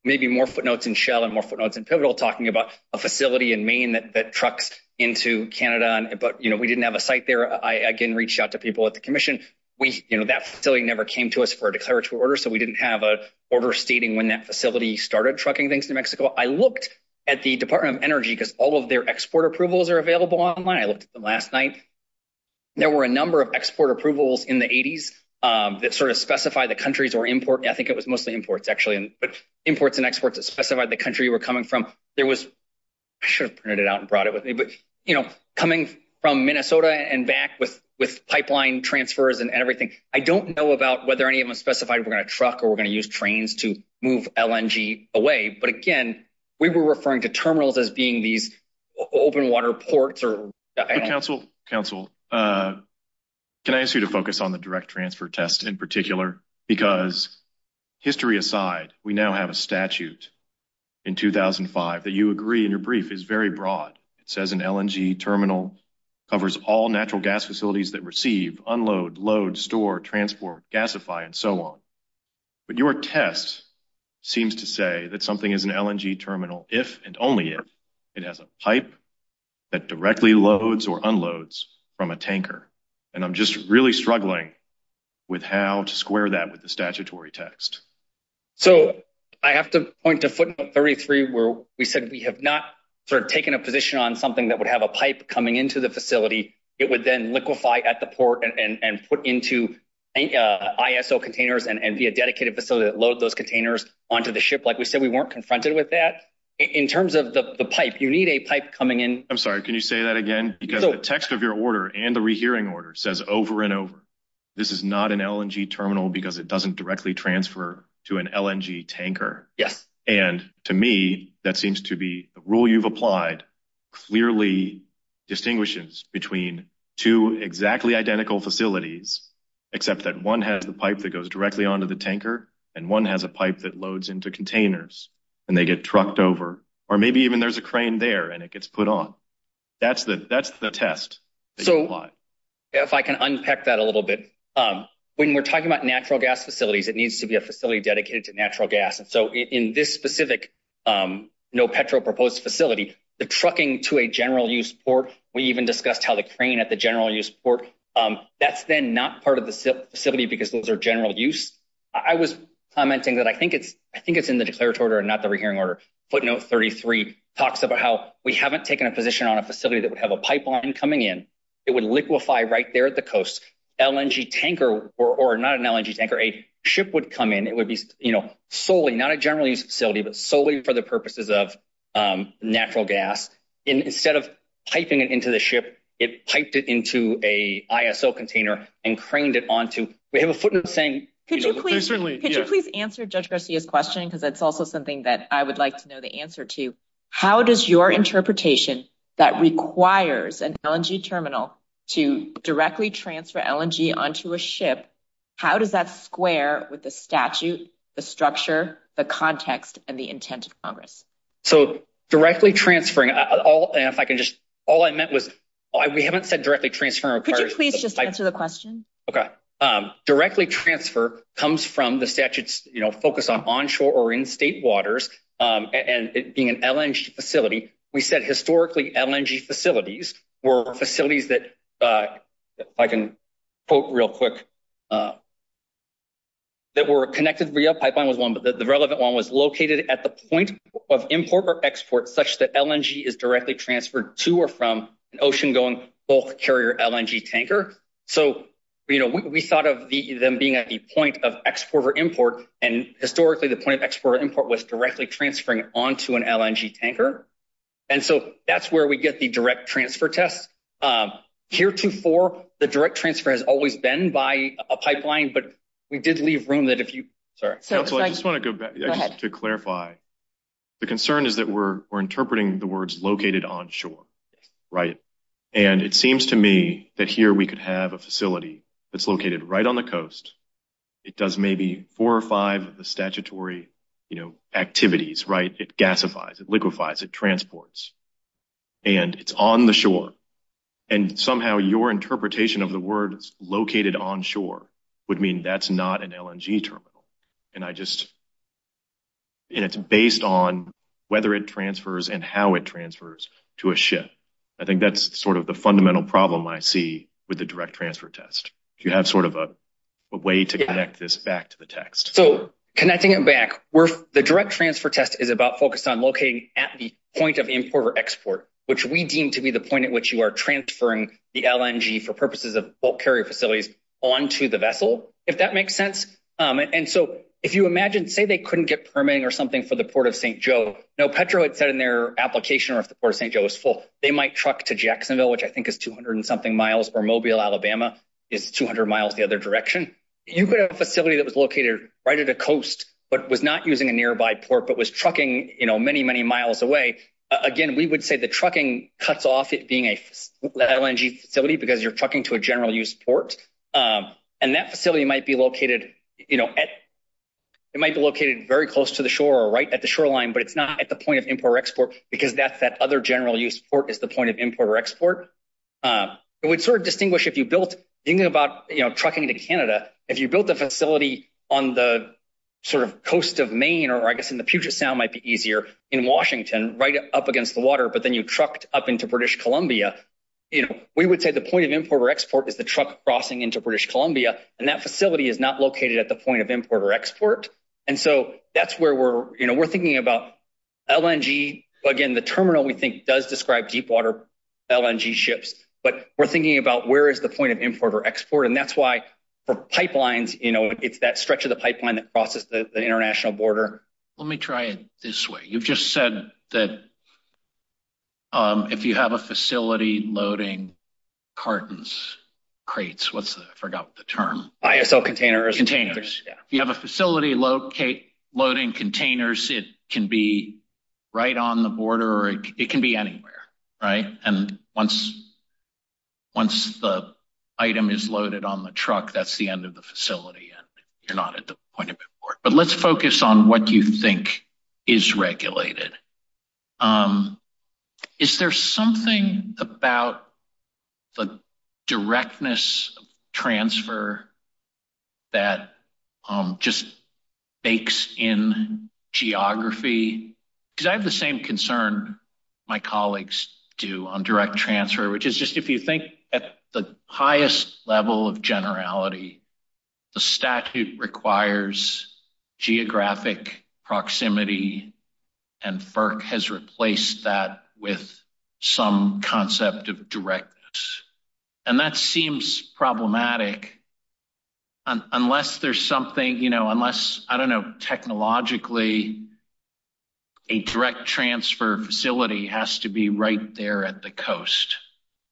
maybe more footnotes in Shell and more footnotes in Pivotal talking about a facility in Maine that trucks into Canada, but, you know, we didn't have a site there. I, again, reached out to people at the commission. We, you know, that facility never came to us for a declaratory order, so we didn't have a order stating when that facility started trucking things to Mexico. I looked at the Department of Energy because all of their export approvals are available online. I looked at them last night. There were a number of export approvals in the 80s that sort of specify the countries or import, I think it was mostly imports actually, but imports that specified the country you were coming from. There was, I should have printed it out and brought it with me, but, you know, coming from Minnesota and back with pipeline transfers and everything, I don't know about whether any of them specified we're going to truck or we're going to use trains to move LNG away. But again, we were referring to terminals as being these open water ports or... Council, Council, can I ask you to focus on the direct transfer test in particular? Because, history aside, we now have a statute in 2005 that you agree in your brief is very broad. It says an LNG terminal covers all natural gas facilities that receive, unload, load, store, transport, gasify, and so on. But your test seems to say that something is an LNG terminal if and only if it has a pipe that directly loads or unloads from a tanker. And I'm just really struggling with how to square that with the statutory text. So, I have to point to footnote 33 where we said we have not sort of taken a position on something that would have a pipe coming into the facility. It would then liquefy at the port and put into ISO containers and be a dedicated facility that load those containers onto the ship. Like we said, we weren't confronted with that. In terms of the pipe, you need a pipe coming in. I'm sorry, can you say that again? Because the text of your order and the rehearing order says over and over, this is not an LNG terminal because it doesn't directly transfer to an LNG tanker. Yes. And, to me, that seems to be the rule you've applied clearly distinguishes between two exactly identical facilities except that one has the pipe that goes directly onto the tanker and one has a pipe that loads into containers and they get trucked over. Or maybe even there's a crane there and it gets put on. That's the test that you apply. If I can unpack that a little bit. When we're talking about natural gas facilities, it needs to be a facility dedicated to natural gas. And so in this specific no petrol proposed facility, the trucking to a general use port, we even discussed how the crane at the general use port, that's then not part of the facility because those are general use. I was commenting that I think it's in the declaratory order and not the rehearing order. Footnote 33 talks about how we haven't taken a position on a facility that would have a pipeline coming in. It would liquefy right there at the coast. LNG tanker or not an LNG tanker, a ship would come in. It would be solely, not a general use facility, but solely for the purposes of natural gas. Instead of piping it into the ship, it piped it into a ISO container and craned it onto, we have a footnote saying. Could you please answer Judge Garcia's question? Because that's also something that I would like to know the answer to. How does your interpretation that requires an LNG terminal to directly transfer LNG onto a ship, how does that square with the statute, the structure, the context, and the intent of Congress? So directly transferring, all I meant was, we haven't said directly transfer. Could you please just answer the question? Okay, directly transfer comes from the statute's focus on onshore or in state waters and being an LNG facility. We said historically LNG facilities were facilities that, if I can quote real quick, that were connected via pipeline was one, but the relevant one was located at the point of import or export such that LNG is directly transferred to or from an ocean-going bulk carrier LNG tanker. So, you know, we thought of them being at the point of export or import, and historically the point of export or import was directly transferring onto an LNG tanker, and so that's where we get the direct transfer test. Heretofore, the direct transfer has always been by a pipeline, but we did leave room that if you, sorry. I just want to go back to clarify. The concern is that we're interpreting the words located onshore, right, and it seems to me that here we could have a facility that's located right on the coast. It does maybe four or five of the statutory, you know, activities, right? It gasifies, it liquefies, it transports, and it's on the shore, and somehow your interpretation of the word located onshore would mean that's not an LNG terminal, and I just, and it's based on whether it transfers and how it transfers to a ship. I think that's sort of the fundamental problem I see with the direct transfer test. Do you have sort of a way to connect this back to the text? So, connecting it back, the direct transfer test is about focused on locating at the point of import or export, which we deem to be the point at which you are transferring the LNG for purposes of bulk carrier facilities onto the vessel, if that makes sense. And so, if you imagine, say they couldn't get permitting or something for the Port of St. Joe. Now, Petro had said in their application, or if the Port of St. Joe was full, they might truck to Jacksonville, which I think is 200 and something miles, or Mobile, Alabama is 200 miles the other direction. You could have a facility that was located right at the coast, but was not using a nearby port, but was trucking, you know, many, many miles away. Again, we would say the trucking cuts off it being a LNG facility because you're trucking to a general use port, and that facility might be located, you know, it might be located very close to the shore or right at the shoreline, but it's not at the point of import or export, because that's that other general use port is the point of import or export. It would sort of distinguish if you built, thinking about, you know, trucking to Canada, if you built a facility on the sort of coast of Maine, or I guess in the Puget Sound might be easier, in Washington, right up against the water, but then you trucked up into British Columbia, you know, we would say the point of import or export is the truck crossing into British Columbia, and that facility is not located at the point of import or export, and so that's where we're, you know, we're thinking about LNG, again, the terminal we think does describe deep water LNG ships, but we're thinking about where is the point of import or export, and that's why for pipelines, you know, it's that stretch of the pipeline that crosses the international border. Let me try it this way. You've just said that if you have a facility loading cartons, crates, what's the, I forgot the term. ISO containers. Containers. Yeah. You have a facility locate, loading containers, it can be right on the border, or it can be anywhere, right, and once the item is loaded on the truck, that's the end of the facility, and you're not at the point of import, but let's focus on what you think is regulated. Is there something about the directness of transfer that just bakes in geography? Because I have the same concern my colleagues do on direct transfer, which is just if you think at the highest level of generality, the statute requires geographic proximity, and FERC has replaced that with some concept of direct, and that seems problematic unless there's something, you know, unless, I don't know, technologically, a direct transfer facility has to be right there at the coast.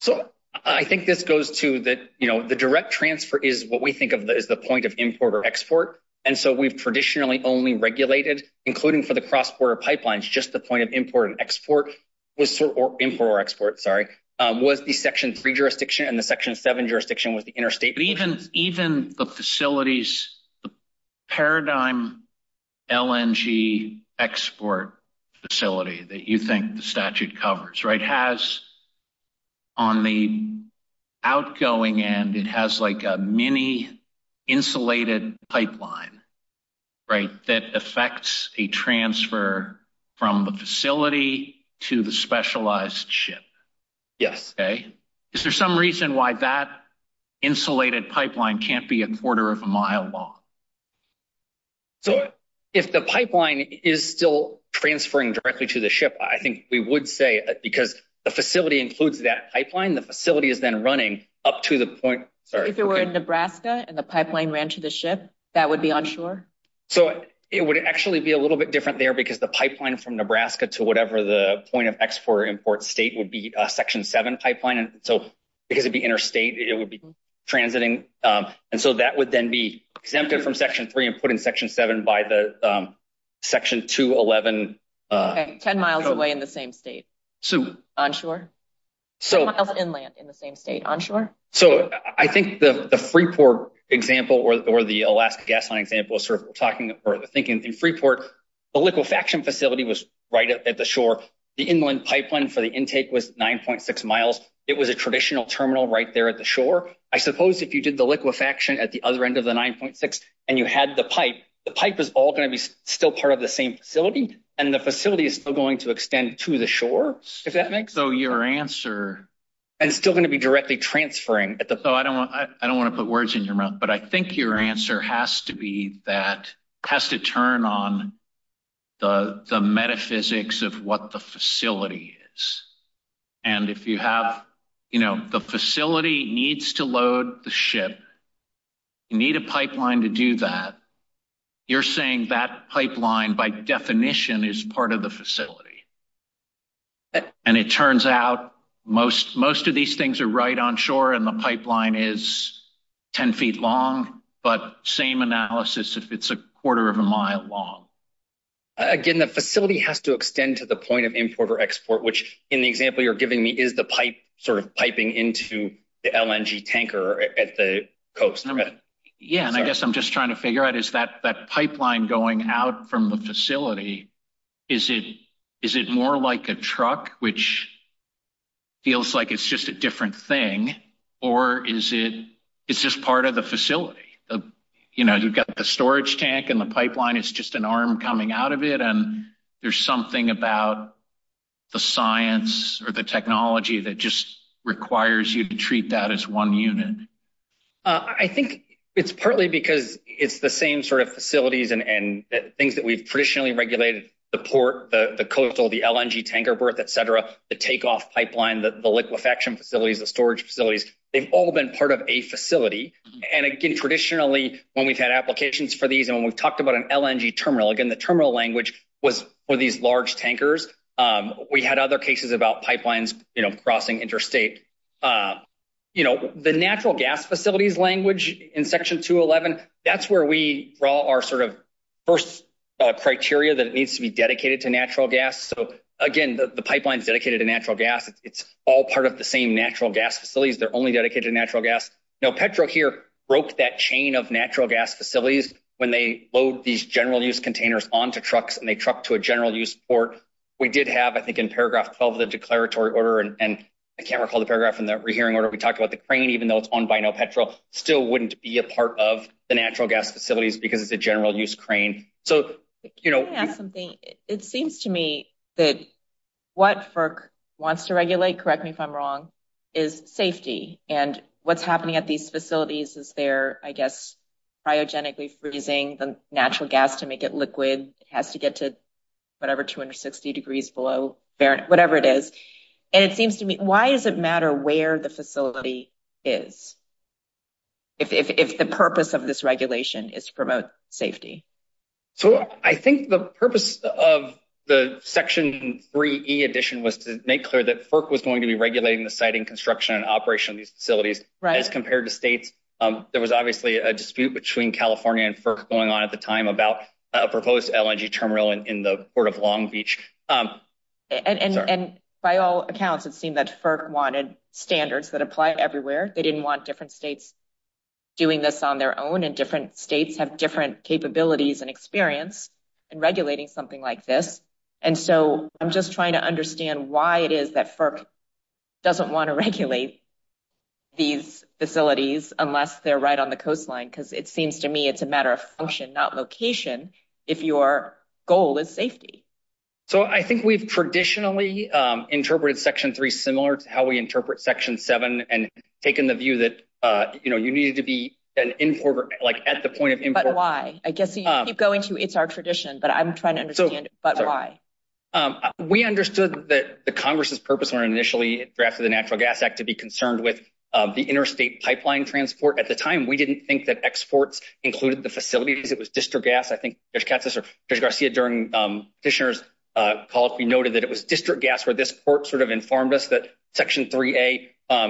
So, I think this goes to that, you know, the direct transfer is what we think of as the point of import or export, and so we've traditionally only regulated, including for the cross-border pipelines, just the point of import and export was, or import or export, sorry, was the section three jurisdiction, and the section seven jurisdiction was the interstate. But even, the facilities, the paradigm LNG export facility that you think the statute covers, right, has on the outgoing end, it has like a mini insulated pipeline, right, that affects a transfer from the facility to the specialized ship. Yes. Okay. Is there some reason why that can't be a quarter of a mile long? So, if the pipeline is still transferring directly to the ship, I think we would say, because the facility includes that pipeline, the facility is then running up to the point, sorry. If it were in Nebraska, and the pipeline ran to the ship, that would be onshore? So, it would actually be a little bit different there, because the pipeline from Nebraska to whatever the point of export or import state would be a section seven and so that would then be exempted from section three and put in section seven by the section 211. Okay. Ten miles away in the same state. So, onshore. Ten miles inland in the same state, onshore? So, I think the Freeport example or the Alaska Gas Line example is sort of talking or thinking in Freeport, the liquefaction facility was right at the shore. The inland pipeline for the intake was 9.6 miles. It was a traditional terminal right there at the shore. I suppose if did the liquefaction at the other end of the 9.6 and you had the pipe, the pipe was all going to be still part of the same facility and the facility is still going to extend to the shore, if that makes sense? So, your answer... And still going to be directly transferring at the... So, I don't want to put words in your mouth, but I think your answer has to be that, has to turn on the metaphysics of what the facility is. And if you have, you know, the facility needs to load the ship, you need a pipeline to do that, you're saying that pipeline by definition is part of the facility. And it turns out most of these things are right on shore and the pipeline is 10 feet long, but same analysis if it's a quarter of a mile long. Again, the facility has to extend to the point of import or export, which in the example you're giving me is the pipe sort of tanker at the coast. Yeah. And I guess I'm just trying to figure out, is that pipeline going out from the facility, is it more like a truck, which feels like it's just a different thing, or is it, it's just part of the facility? You know, you've got the storage tank and the pipeline, it's just an arm coming out of it. And there's something about the science or the technology that just requires you to treat that as one unit. I think it's partly because it's the same sort of facilities and things that we've traditionally regulated, the port, the coastal, the LNG tanker berth, et cetera, the takeoff pipeline, the liquefaction facilities, the storage facilities, they've all been part of a facility. And again, traditionally, when we've had applications for these, and when we've talked about an LNG terminal, again, the terminal language was for these large pipelines, you know, crossing interstate. You know, the natural gas facilities language in Section 211, that's where we draw our sort of first criteria that it needs to be dedicated to natural gas. So again, the pipeline is dedicated to natural gas. It's all part of the same natural gas facilities. They're only dedicated to natural gas. Now, Petro here broke that chain of natural gas facilities when they load these general use containers onto trucks and they truck to a general use port. We did have, I think in paragraph 12 of the declaratory order, and I can't recall the paragraph in the rehearing order, we talked about the crane, even though it's owned by no Petro, still wouldn't be a part of the natural gas facilities because it's a general use crane. So, you know, it seems to me that what FERC wants to regulate, correct me if I'm wrong, is safety. And what's happening at these facilities is they're, I guess, cryogenically freezing the natural gas to make it liquid. It has to get to whatever, 260 degrees below Fahrenheit, whatever it is. And it seems to me, why does it matter where the facility is, if the purpose of this regulation is to promote safety? So I think the purpose of the Section 3E addition was to make clear that FERC was going to be regulating the siting, construction, and operation of these facilities. As compared to states, there was obviously a dispute between California and FERC going on at the time about a proposed LNG terminal in the Port of Long Beach. And by all accounts, it seemed that FERC wanted standards that apply everywhere. They didn't want different states doing this on their own, and different states have different capabilities and experience in regulating something like this. And so I'm just trying to understand why it is that FERC doesn't want to regulate these facilities unless they're right on the coastline, because it seems to me it's a matter of function, not location, if your goal is safety. So I think we've traditionally interpreted Section 3 similar to how we interpret Section 7, and taken the view that, you know, you needed to be an importer, like, at the point of import. But why? I guess you keep going to, it's our tradition, but I'm trying to understand, but why? We understood that the Congress's purpose when it initially drafted the Natural Gas Act to be included the facilities. It was district gas. I think Judge Garcia, during the petitioner's call, noted that it was district gas where this court sort of informed us that Section 3A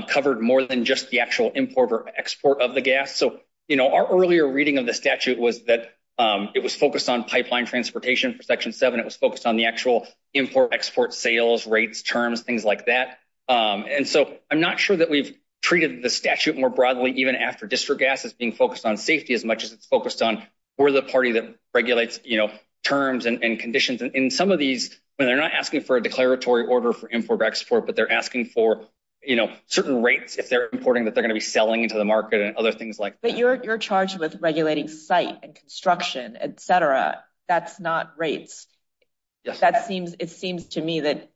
covered more than just the actual import or export of the gas. So, you know, our earlier reading of the statute was that it was focused on pipeline transportation for Section 7. It was focused on the actual import-export sales, rates, terms, things like that. And so I'm not sure that we've even after district gas is being focused on safety as much as it's focused on, we're the party that regulates, you know, terms and conditions. And some of these, when they're not asking for a declaratory order for import-export, but they're asking for, you know, certain rates if they're importing, that they're going to be selling into the market and other things like that. But you're charged with regulating site and construction, etc. That's not rates. That seems, it seems to me that,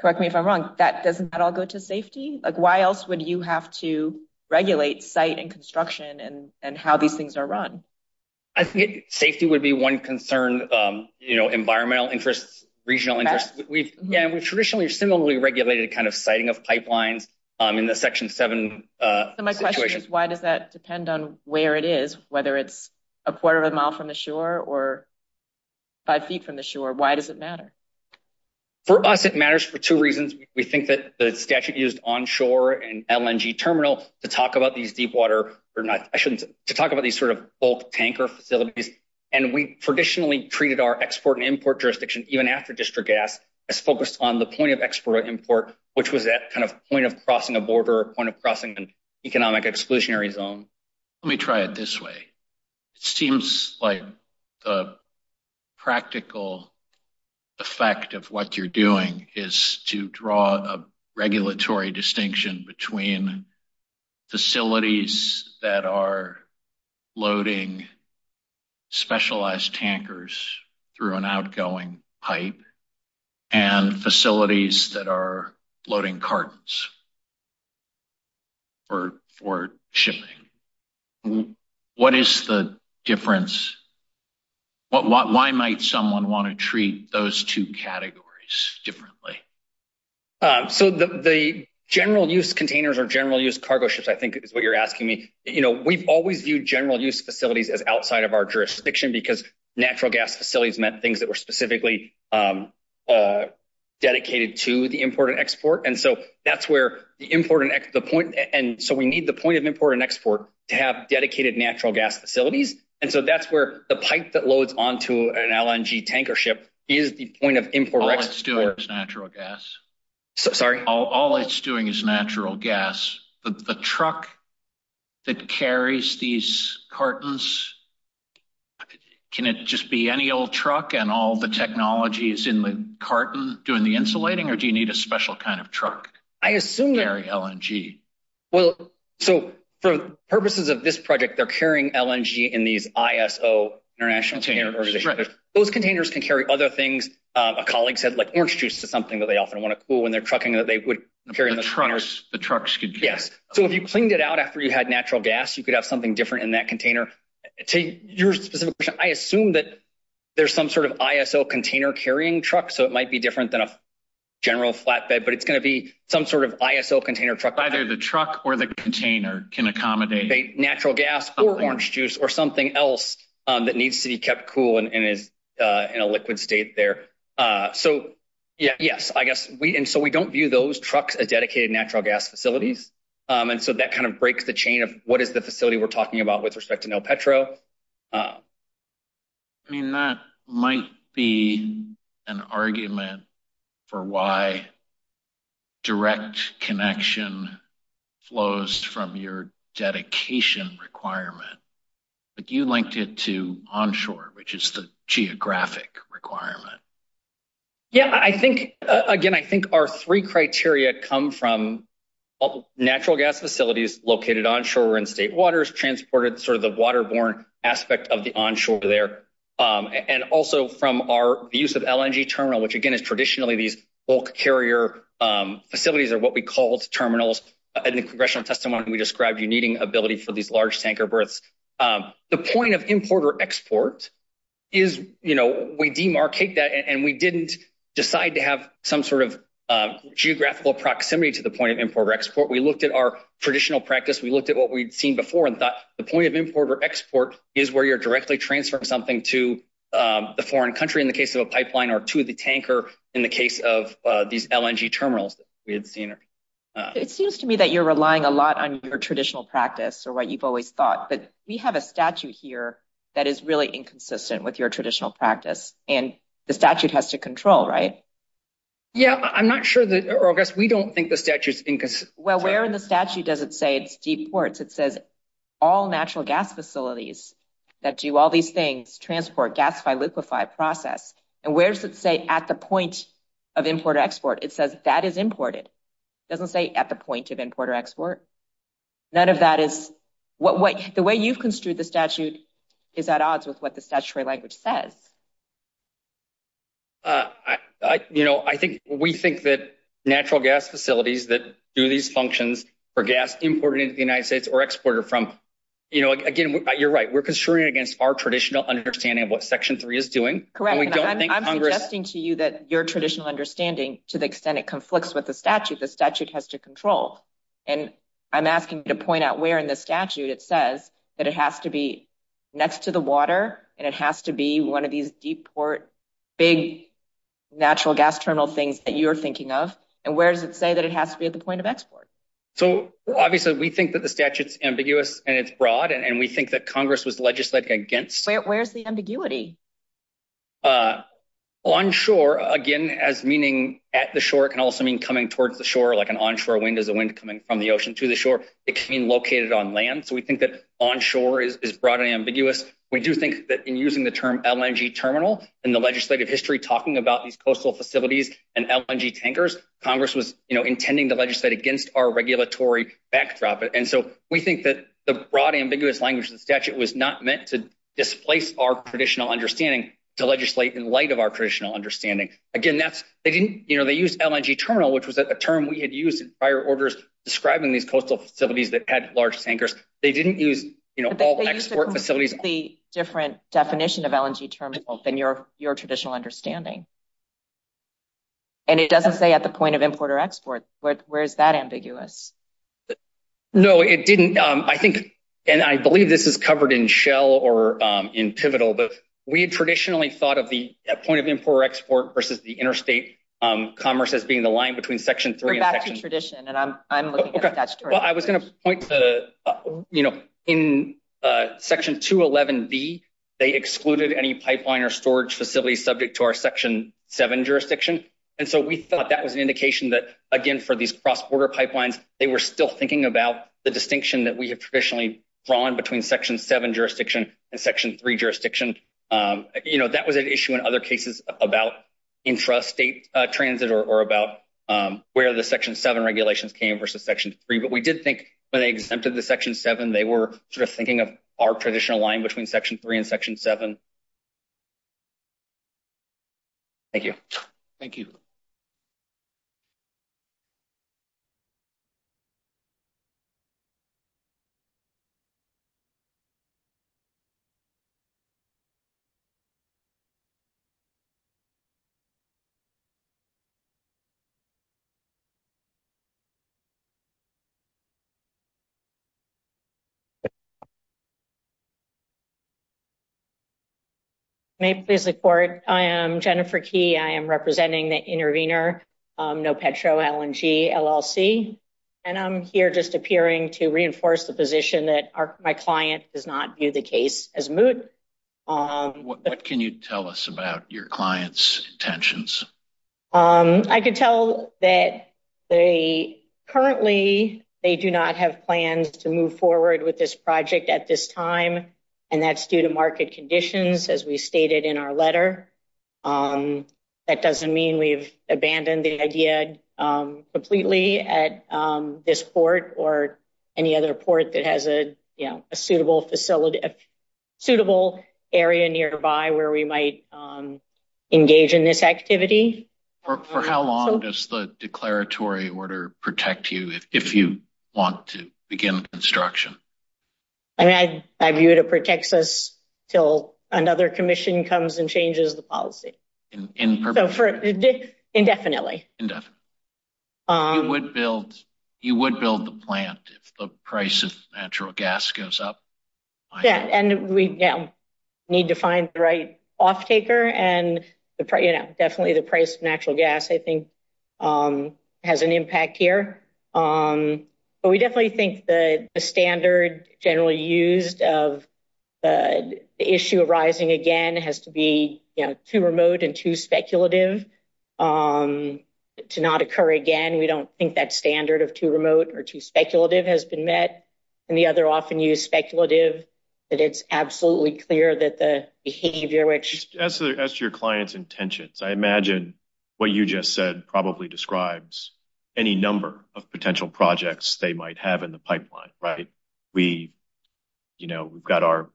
correct me if I'm wrong, that doesn't that all go to safety? Like, why else would you have to regulate site and construction and how these things are run? I think safety would be one concern, you know, environmental interests, regional interests. We've traditionally similarly regulated kind of siting of pipelines in the Section 7 situation. So my question is, why does that depend on where it is, whether it's a quarter of a mile from the shore or five feet from the shore? Why does it think that the statute used onshore and LNG terminal to talk about these deepwater, or not, I shouldn't, to talk about these sort of bulk tanker facilities. And we traditionally treated our export and import jurisdiction, even after district gas, as focused on the point of export import, which was that kind of point of crossing a border, point of crossing an economic exclusionary zone. Let me try it this way. It seems like the practical effect of what you're doing is to draw a regulatory distinction between facilities that are loading specialized tankers through an outgoing pipe and facilities that are treating those two categories differently. So the general use containers or general use cargo ships, I think, is what you're asking me. You know, we've always viewed general use facilities as outside of our jurisdiction, because natural gas facilities meant things that were specifically dedicated to the import and export. And so that's where the important the point. And so we need the point of import and export to have dedicated natural gas facilities. And so that's where the pipe that loads onto an LNG tanker ship is the point of import and export. All it's doing is natural gas. Sorry? All it's doing is natural gas. The truck that carries these cartons, can it just be any old truck and all the technologies in the carton doing the insulating, or do you need a special kind of truck to carry LNG? Well, so for purposes of this project, they're carrying LNG in these ISO, International Container Organization. Those containers can carry other things. A colleague said, like, orange juice is something that they often want to cool when they're trucking that they would carry in the trucks. The trucks could carry. Yes. So if you cleaned it out after you had natural gas, you could have something different in that container. To your specific question, I assume that there's some sort of ISO container carrying truck. So it might be different than a general flatbed, but it's the truck or the container can accommodate natural gas or orange juice or something else that needs to be kept cool and is in a liquid state there. So yes, I guess we and so we don't view those trucks as dedicated natural gas facilities. And so that kind of breaks the chain of what is the facility we're talking about with respect to flows from your dedication requirement. But you linked it to onshore, which is the geographic requirement. Yeah, I think again, I think our three criteria come from natural gas facilities located onshore in state waters, transported sort of the waterborne aspect of the onshore there. And also from our use of LNG terminal, which, again, is traditionally these bulk carrier facilities are what we call terminals. In the congressional testimony, we described you needing ability for these large tanker berths. The point of import or export is, you know, we demarcate that and we didn't decide to have some sort of geographical proximity to the point of import or export. We looked at our traditional practice. We looked at what we'd seen before and thought the point of import or export is where you're directly transferring something to the foreign country in the case of a pipeline or to the tanker. In the case of these LNG terminals, we had seen. It seems to me that you're relying a lot on your traditional practice or what you've always thought, but we have a statute here that is really inconsistent with your traditional practice. And the statute has to control, right? Yeah, I'm not sure that, or I guess we don't think the statute's inconsistent. Well, where in the statute does it say it's deep ports? It says all natural gas facilities and where does it say at the point of import or export? It says that is imported. Doesn't say at the point of import or export. None of that is what the way you've construed the statute is at odds with what the statutory language says. You know, I think we think that natural gas facilities that do these functions for gas imported into the United States or exported from, you know, again, you're right. We're construing against our traditional understanding of what section is doing. Correct. I'm suggesting to you that your traditional understanding, to the extent it conflicts with the statute, the statute has to control. And I'm asking you to point out where in the statute it says that it has to be next to the water and it has to be one of these deep port, big natural gas terminal things that you're thinking of. And where does it say that it has to be at the point of export? So obviously we think that the statute's ambiguous and it's broad. And we think Congress was legislating against. Where's the ambiguity? Onshore, again, as meaning at the shore, it can also mean coming towards the shore, like an onshore wind is a wind coming from the ocean to the shore. It can be located on land. So we think that onshore is broadly ambiguous. We do think that in using the term LNG terminal in the legislative history, talking about these coastal facilities and LNG tankers, Congress was intending to legislate against our regulatory backdrop. And so we think that the broad, ambiguous language of the statute was not meant to displace our traditional understanding to legislate in light of our traditional understanding. Again, that's, they didn't, you know, they used LNG terminal, which was a term we had used in prior orders describing these coastal facilities that had large tankers. They didn't use, you know, all the export facilities. They used a completely different definition of LNG terminal than your traditional understanding. And it doesn't say at the point of import or export. Where is that ambiguous? No, it didn't. I think, and I believe this is covered in Shell or in Pivotal, but we had traditionally thought of the point of import or export versus the interstate commerce as being the line between section three and section- We're back to tradition, and I'm looking at that story. Okay. Well, I was going to point to, you know, in section 211B, they excluded any pipeline or storage facility subject to our section seven jurisdiction. And so we thought that was an They were still thinking about the distinction that we have traditionally drawn between section seven jurisdiction and section three jurisdiction. You know, that was an issue in other cases about intrastate transit or about where the section seven regulations came versus section three. But we did think when they exempted the section seven, they were sort of thinking of our traditional line between section three and section seven. Thank you. Thank you. May it please the court, I am Jennifer Key. I am representing the intervener, Nopetro LNG LLC. And I'm here just appearing to reinforce the position that my client does not view the case as moot. What can you tell us about your client's intentions? I can tell that they currently, they do not have plans to move forward with this project at this time. We've abandoned the idea completely at this port or any other port that has a, you know, a suitable facility, a suitable area nearby where we might engage in this activity. For how long does the declaratory order protect you if you want to begin construction? I mean, I view it as it protects us until another commission comes and changes the policy. So for indefinitely? Indefinitely. You would build the plant if the price of natural gas goes up. Yeah. And we need to find the right off taker and the price, you know, definitely the price of natural gas, I think has an impact here. But we definitely think the standard generally used of the issue arising again has to be, you know, too remote and too speculative to not occur again. We don't think that standard of too remote or too speculative has been met. And the other often used speculative that it's absolutely clear that the behavior which. As to your client's intentions, I imagine what you just said probably describes any number of potential projects they might have in the pipeline, right? We, you know, we've got our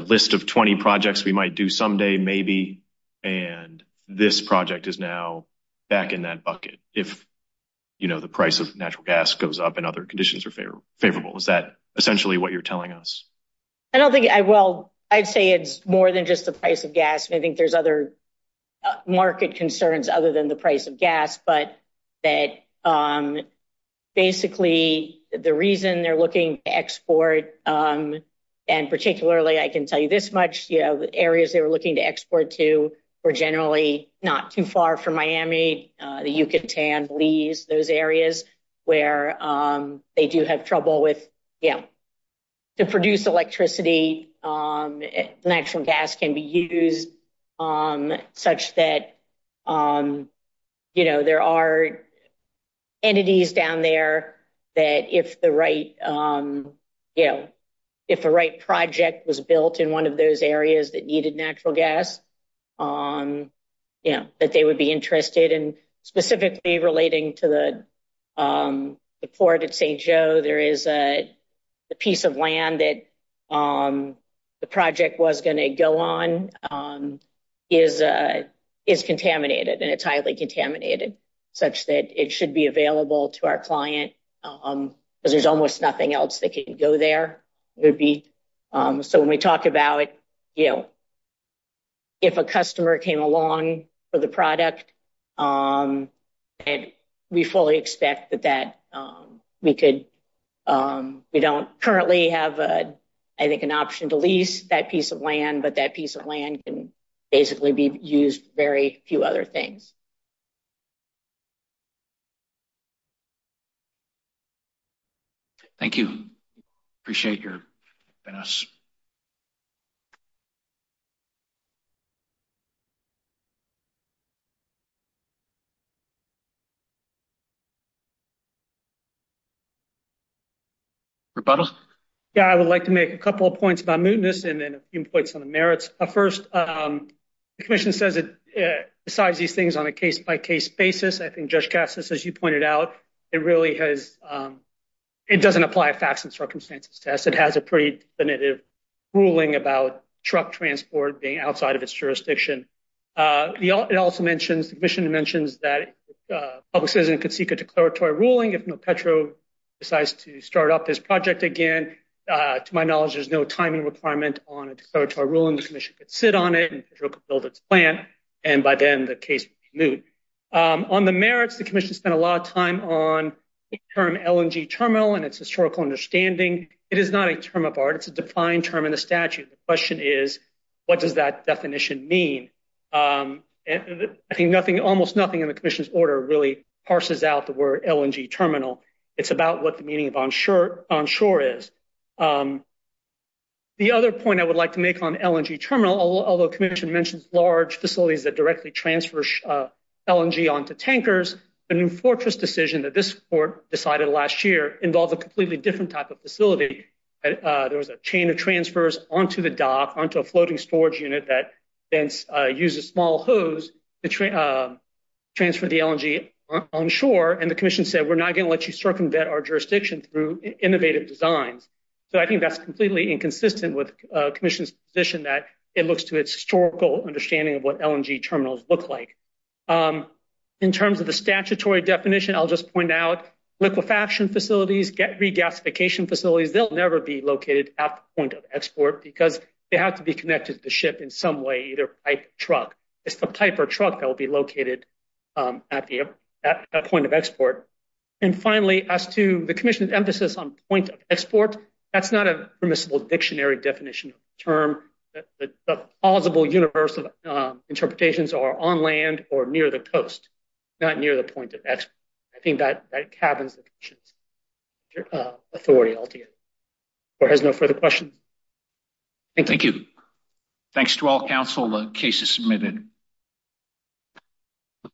list of 20 projects we might do someday, maybe. And this project is now back in that bucket. If, you know, the price of natural gas goes up and other conditions are favorable, is that essentially what you're telling us? I don't think I will. I'd say it's more than just the price of gas. I think there's other market concerns other than the price of gas. But that basically the reason they're looking to export and particularly, I can tell you this much, you know, areas they were looking to export to were generally not too far from Miami, the Yucatan, Belize, those areas where they do have trouble with, you know, to produce electricity. Natural gas can be used such that, you know, there are entities down there that if the right, you know, if the right project was built in one of those areas that needed natural gas, you know, that they would be interested. And specifically relating to the port at St. Joe, there is a piece of land that the project was going to go on is contaminated and it's highly contaminated such that it should be available to our client because there's almost nothing else that can go there. So when we talk about, you know, if a customer came along for the product, we fully expect that we could, we don't currently have, I think, an option to lease that piece of land, but that piece of land can basically be used for very few other things. Thank you. Appreciate your goodness. Rebuttal? Yeah, I would like to make a couple of points about mootness and then a few points on the merits. First, the commission says it decides these things on a case-by-case basis. I think as you pointed out, it really has, it doesn't apply a facts and circumstances test. It has a pretty definitive ruling about truck transport being outside of its jurisdiction. It also mentions, the commission mentions that a citizen could seek a declaratory ruling if Petro decides to start up this project again. To my knowledge, there's no timing requirement on a declaratory ruling. The commission could sit on it and build its plan. And by then the case would be moot. On the merits, the commission spent a lot of time on the term LNG terminal and its historical understanding. It is not a term of art. It's a defined term in the statute. The question is, what does that definition mean? I think nothing, almost nothing in the commission's order really parses out the word LNG terminal. It's about what the meaning of onshore is. The other point I would like to make on LNG terminal, although the commission mentions large facilities that directly transfers LNG onto tankers, the new fortress decision that this court decided last year involved a completely different type of facility. There was a chain of transfers onto the dock, onto a floating storage unit that then used a small hose to transfer the LNG onshore. And the commission said, we're not going to let you circumvent our jurisdiction through innovative designs. So I think that's completely inconsistent with commission's position that it looks to its understanding of what LNG terminals look like. In terms of the statutory definition, I'll just point out liquefaction facilities, gasification facilities, they'll never be located at the point of export because they have to be connected to the ship in some way, either by truck. It's the type of truck that will be located at the point of export. And finally, as to the commission's emphasis on point of export, that's not a permissible definition of the term. The plausible universe of interpretations are on land or near the coast, not near the point of export. I think that cabins the commission's authority altogether. The court has no further questions. Thank you. Thanks to all counsel. The case is submitted.